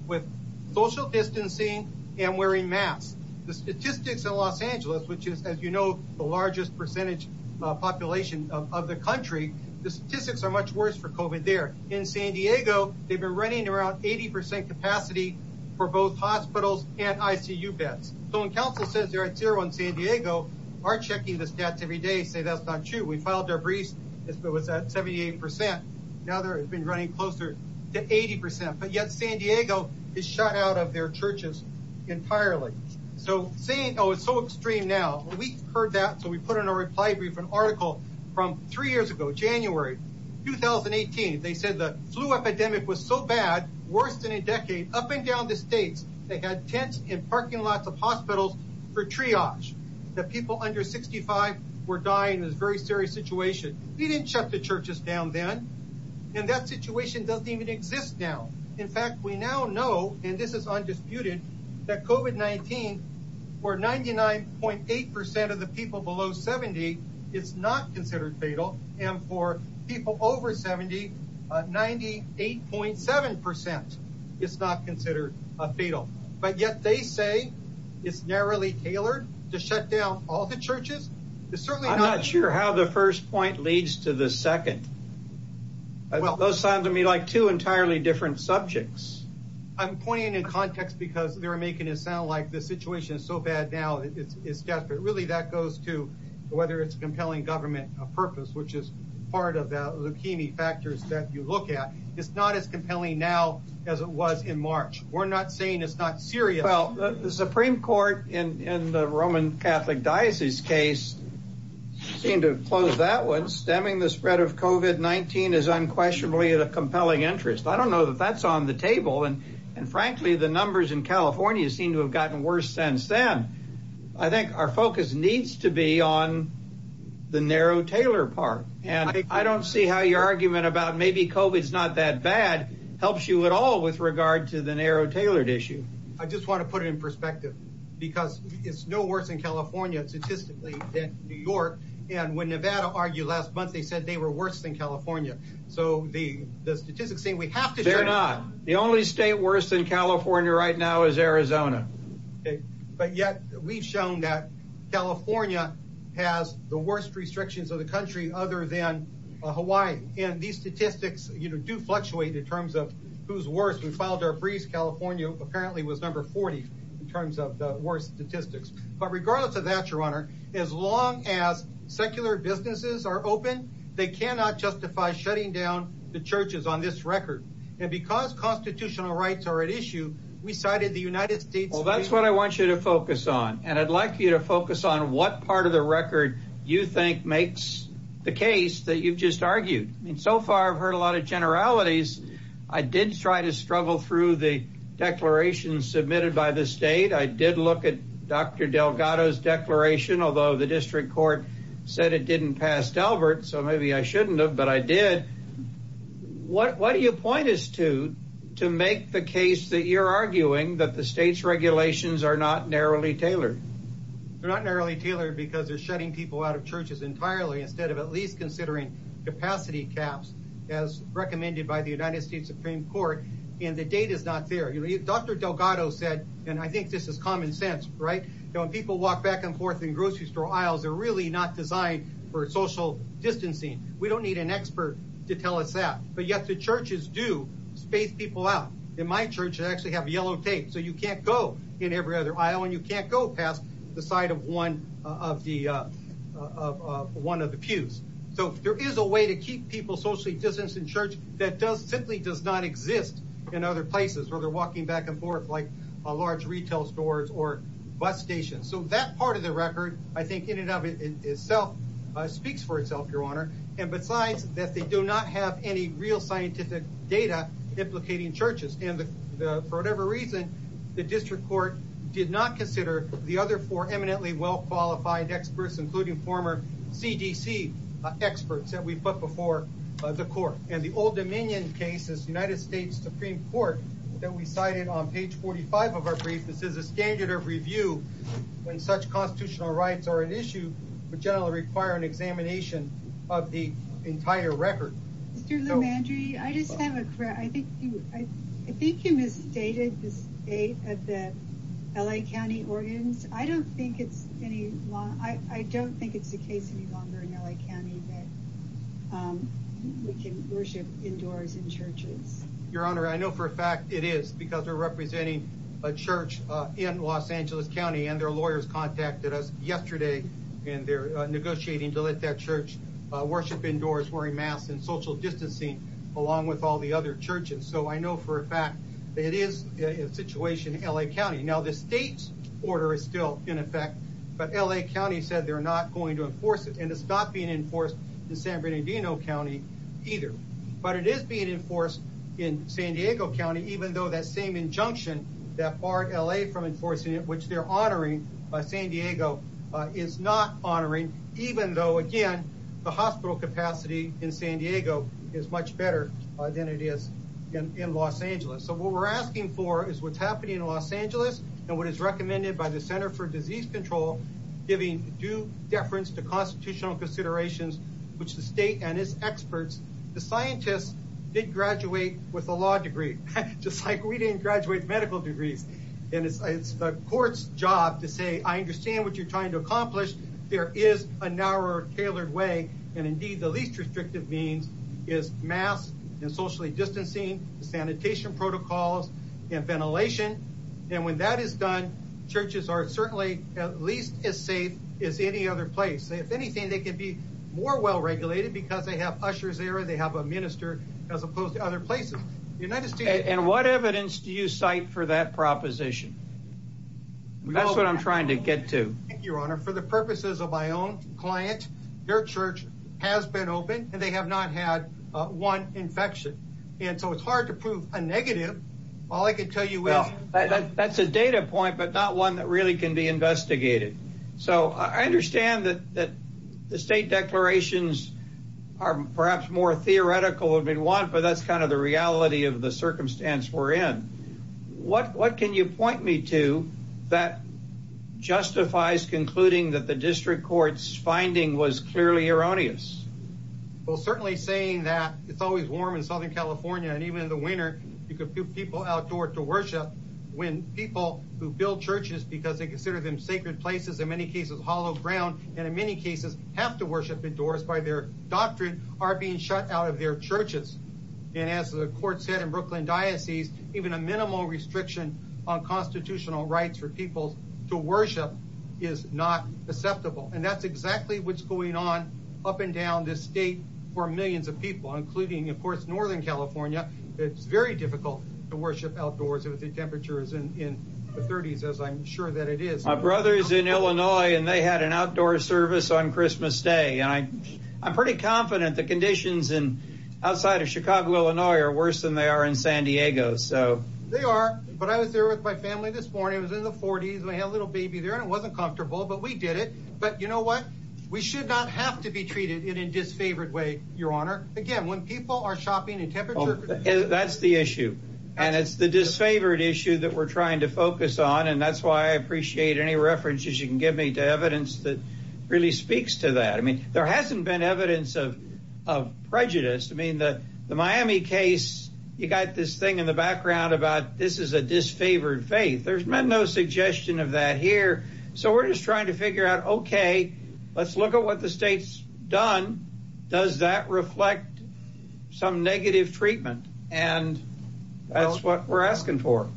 with social distancing and wearing masks. The statistics in Los Angeles, which is, as you know, the largest percentage population of the country, the worst for COVID there. In San Diego, they've been running around 80% capacity for both hospitals and ICU beds. So when council says they're at zero in San Diego, our checking the stats every day say that's not true. We filed their briefs as though it's at 78%. Now they're running closer to 80%. But yet San Diego is shut out of their churches entirely. So saying, oh, it's so extreme now, we heard that. So we put in a reply brief, an article from three years ago, January 2018. They said the flu epidemic was so bad, worse than a decade up and down the state. They had tents in parking lots of hospitals for triage. The people under 65 were dying in this very serious situation. We didn't shut the churches down then. And that situation doesn't even exist now. In fact, we now know, and this is undisputed, that COVID-19, for 99.8% of the people below 70, it's not considered fatal. And for people over 70, 98.7% it's not considered fatal. But yet they say it's narrowly tailored to shut down all the churches. It's certainly not. I'm not sure how the first point leads to the second. Well, those sound to me like two entirely different subjects. I'm pointing in context because they're making it sound like the situation is so bad now it's desperate. Really that goes to whether it's compelling government purpose, which is part of the leukemia factors that you look at. It's not as compelling now as it was in March. We're not saying it's not serious. Well, the Supreme Court in the Roman Catholic Diocese case, seemed to close that one. Stemming the spread of COVID-19 is unquestionably of a compelling interest. I don't know that that's on the table. And frankly, the numbers in California seem to have gotten worse since then. I think our focus needs to be on the narrow tailored part. And I don't see how your argument about maybe COVID's not that bad helps you at all with regard to the narrow tailored issue. I just want to put it in perspective because it's no worse in California, statistically, than New York. And when Nevada argued last month, they said they were worse than California. So the statistics say we have to- They're not. The only state worse than California right now is Arizona. But yet we've shown that California has the worst restrictions of the country other than Hawaii. And these statistics do fluctuate in terms of who's worse. In Clouds Air Breeze, California apparently was number 40 in terms of the worst statistics. But regardless as long as secular businesses are open, they cannot justify shutting down the churches on this record. And because constitutional rights are at issue, we cited the United States- Well, that's what I want you to focus on. And I'd like you to focus on what part of the record you think makes the case that you've just argued. I mean, so far I've heard a lot of generalities. I did try to struggle through the declaration submitted by the state. I did look at Dr. Delgado's declaration, although the district court said it didn't pass Talbert. So maybe I shouldn't have, but I did. What do you point us to to make the case that you're arguing that the state's regulations are not narrowly tailored? They're not narrowly tailored because they're shutting people out of churches entirely instead of at least considering capacity gaps as recommended by the United States Supreme Court. And the data's not there. Dr. Delgado said, and I think this is common sense, right? When people walk back and forth in grocery store aisles, they're really not designed for social distancing. We don't need an expert to tell us that. But yet the churches do space people out. In my church, I actually have yellow tape. So you can't go in every other aisle and you can't go past the side of one of the pews. So there is a way to keep people socially distanced in church that simply does not exist in other places where they're walking back and forth, like large retail stores or bus stations. So that part of the record, I think in and of itself, speaks for itself, Your Honor. And besides that, they do not have any real scientific data implicating churches. And for whatever reason, the district court did not consider the other four eminently well-qualified experts, including former CDC experts that we put before the court. And the Old Dominion case, the United States Supreme Court, that we cited on page 45 of our brief, this is a standard of review when such constitutional rights are an issue that generally require an examination of the entire record. Mr. Lomandri, I just have a question. I think you misstated the state of the L.A. County Ordinance. I don't think it's the case any longer in L.A. County that we can worship indoors in churches. Your Honor, I know for a fact it is, because they're representing a church in Los Angeles County, and their lawyers contacted us yesterday, and they're negotiating to let that church worship indoors, wearing masks, and social distancing, along with all the other churches. So I know for a fact that it is a situation in L.A. County. Now, the state's order is still in effect, but L.A. County said they're not going to enforce it, and it's not being enforced in San Bernardino County either. But it is being enforced in San Diego County, even though that same injunction that barred L.A. from enforcing it, which they're honoring, San Diego is not honoring, even though, again, the hospital capacity in San Diego is much better than it is in Los Angeles. So what we're asking for is what's happening in Los Angeles, and what is recommended by the Center for Disease Control, giving due deference to constitutional considerations, which the state and its experts, the scientists, did graduate with a law degree, just like we didn't graduate medical degrees. And it's the court's job to say, I understand what you're trying to accomplish. There is a narrower, tailored way, and indeed, the least restrictive means is masks, and socially distancing, sanitation protocols, and ventilation. And when that is done, churches are certainly at least as safe as any other place. If anything, they can be more well-regulated because they have ushers there, they have a minister, as opposed to other places. The United States... And what evidence do you cite for that proposition? That's what I'm trying to get to. Thank you, Your Honor. For the purposes of my own clients, their church has been open, and they have not had one infection. And so it's hard to Well, I can tell you, that's a data point, but not one that really can be investigated. So I understand that the state declarations are perhaps more theoretical than we want, but that's kind of the reality of the circumstance we're in. What can you point me to that justifies concluding that the district court's finding was clearly erroneous? Well, certainly saying that it's always warm in Southern California, and even in the winter, you can put people outdoors to worship when people who build churches because they consider them sacred places, in many cases, hollow ground, and in many cases have to worship indoors by their doctrine, are being shut out of their churches. And as the court said in Brooklyn Diocese, even a minimal restriction on constitutional rights for people to worship is not acceptable. And that's exactly what's going on up and down this state for millions of people, including, of course, Northern California. It's very difficult to worship outdoors if the temperature is in the 30s, as I'm sure that it is. My brother is in Illinois, and they had an outdoor service on Christmas Day. I'm pretty confident the conditions outside of Chicago, Illinois, are worse than they are in San Diego. They are, but I was there with my family this morning. It was in the 40s, and I had a little baby there, and it wasn't comfortable, but we did it. But you know what? We should not have to be treated in a disfavored way, Your Honor. Again, when people are shopping in temperatures... That's the issue, and it's the disfavored issue that we're trying to focus on, and that's why I appreciate any references you can give me to evidence that really speaks to that. I mean, there hasn't been evidence of prejudice. I mean, the Miami case, you got this thing in the background about this is a disfavored faith. There's been no suggestion of that here, so we're just trying to figure out, okay, let's look at what the state's done. Does that reflect some negative treatment? And that's what we're asking for.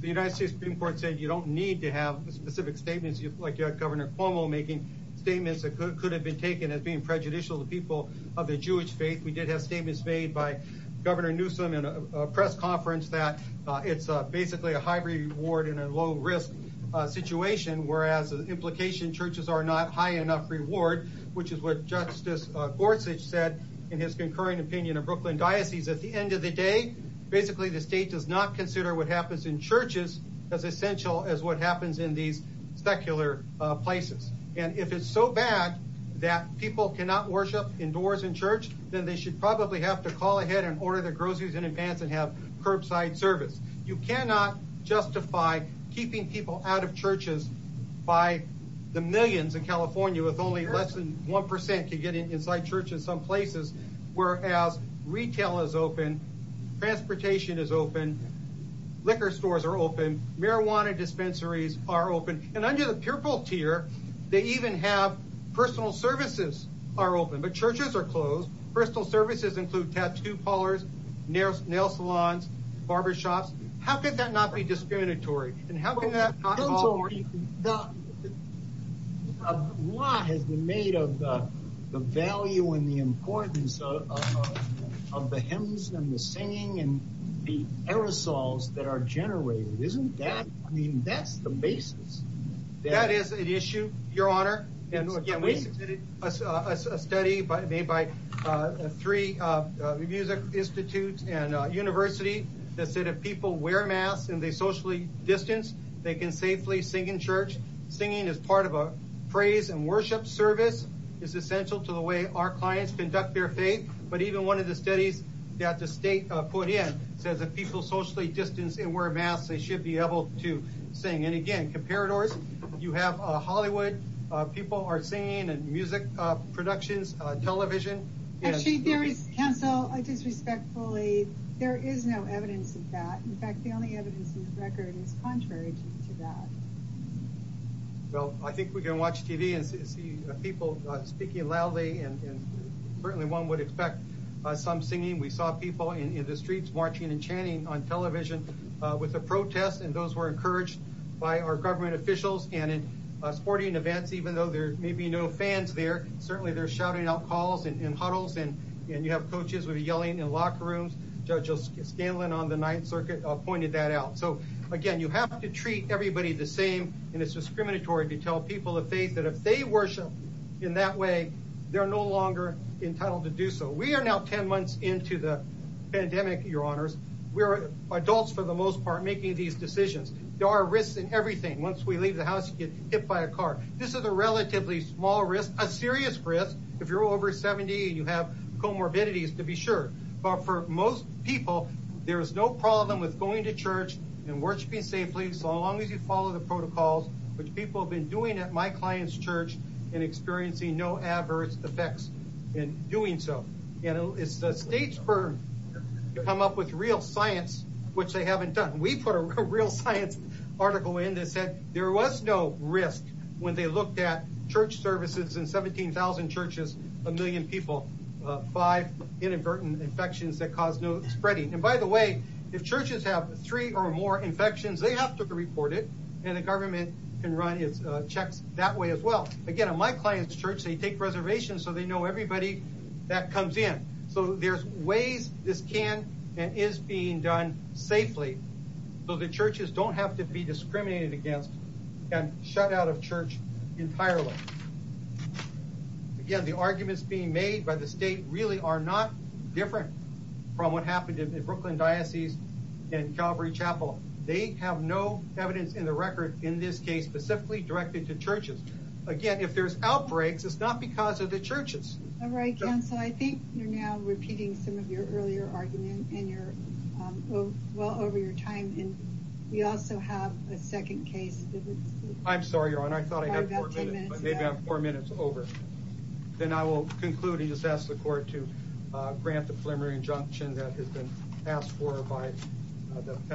The United States Supreme Court said you don't need to have specific statements like Governor Cuomo making statements that could have been taken as being prejudicial to the people of the Jewish faith. We did have statements made by Governor Newsom in a press conference that it's basically a high reward and a low risk situation, whereas the implication churches are not high enough reward, which is what Justice Gorsuch said in his concurring opinion of Brooklyn diocese at the end of the day. Basically, the state does not consider what happens in churches as essential as what happens in these secular places. And if it's so bad that people cannot worship indoors in church, then they should probably have to call ahead and order their groceries in advance and have curbside service. You cannot justify keeping people out of churches by the millions in California with only less than 1% to get inside church in some places, whereas retail is open, transportation is open, liquor stores are open, marijuana dispensaries are open, and under the purple tier, they even have personal services are open, but churches are closed. Personal services include tattoo parlors, nail salons, barber shops. How could that not be discriminatory? A lot has been made of the value and the importance of the hymns and the singing and the aerosols that are generated. Isn't that, I mean, that's the basis. That is an issue, your honor, and again, we did a study made by three music institutes and universities that said if people wear masks and they socially distance, they can safely sing in church. Singing is part of a praise and worship service. It's essential to the way our clients conduct their faith, but even one of the studies that the state put in says if people socially distance and wear masks, they should be able to sing. And again, you have Hollywood, people are singing in music productions, television. Well, I think we can watch TV and see people speaking loudly, and certainly one would expect some singing. We saw people in the streets watching and chanting on television with a lot of government officials and sporting events, even though there may be no fans there, certainly they're shouting out calls and huddles, and you have coaches with yelling in locker rooms. Judge Scanlon on the Ninth Circuit pointed that out. So again, you have to treat everybody the same, and it's discriminatory to tell people that if they worship in that way, they're no longer entitled to do so. We are now 10 months into the pandemic, your honors. We're adults for the most thing. Once we leave the house, we get hit by a car. This is a relatively small risk, a serious risk, if you're over 70 and you have comorbidities, to be sure. But for most people, there's no problem with going to church and worshiping safely, as long as you follow the protocols, which people have been doing at my client's church and experiencing no adverse effects in doing so. And it's the state's burden to come up with real science, which they haven't done. We put a real science article in that said there was no risk when they looked at church services in 17,000 churches, a million people, five inadvertent infections that caused no spreading. And by the way, if churches have three or more infections, they have to report it, and the government can run a check that way as well. Again, at my client's church, they take reservations so they know everybody that comes in. So there's ways this can and is being done safely, so the churches don't have to be discriminated against and shut out of church entirely. Again, the arguments being made by the state really are not different from what happened in the Brooklyn Diocese and Calvary Chapel. They have no evidence in the record in this case specifically directed to churches. Again, if there's outbreaks, it's not because of the churches. All right, counsel, I think you're now repeating some of your earlier arguments and well over your time, and we also have a second case. I'm sorry, Your Honor, I thought I had four minutes, but we have four minutes over. Then I will conclude and just ask the court to grant the preliminary injunction that has been asked for by the South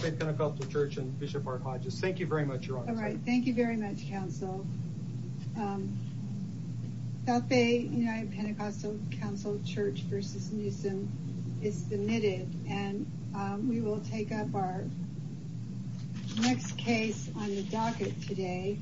Bay Pentecostal Church and Bishop R. Hodges. Thank you very much, Your Honor. All right, thank you very much, counsel. South Bay United Pentecostal Council Church v. Newsom is submitted, and we will take up our next case on the docket today.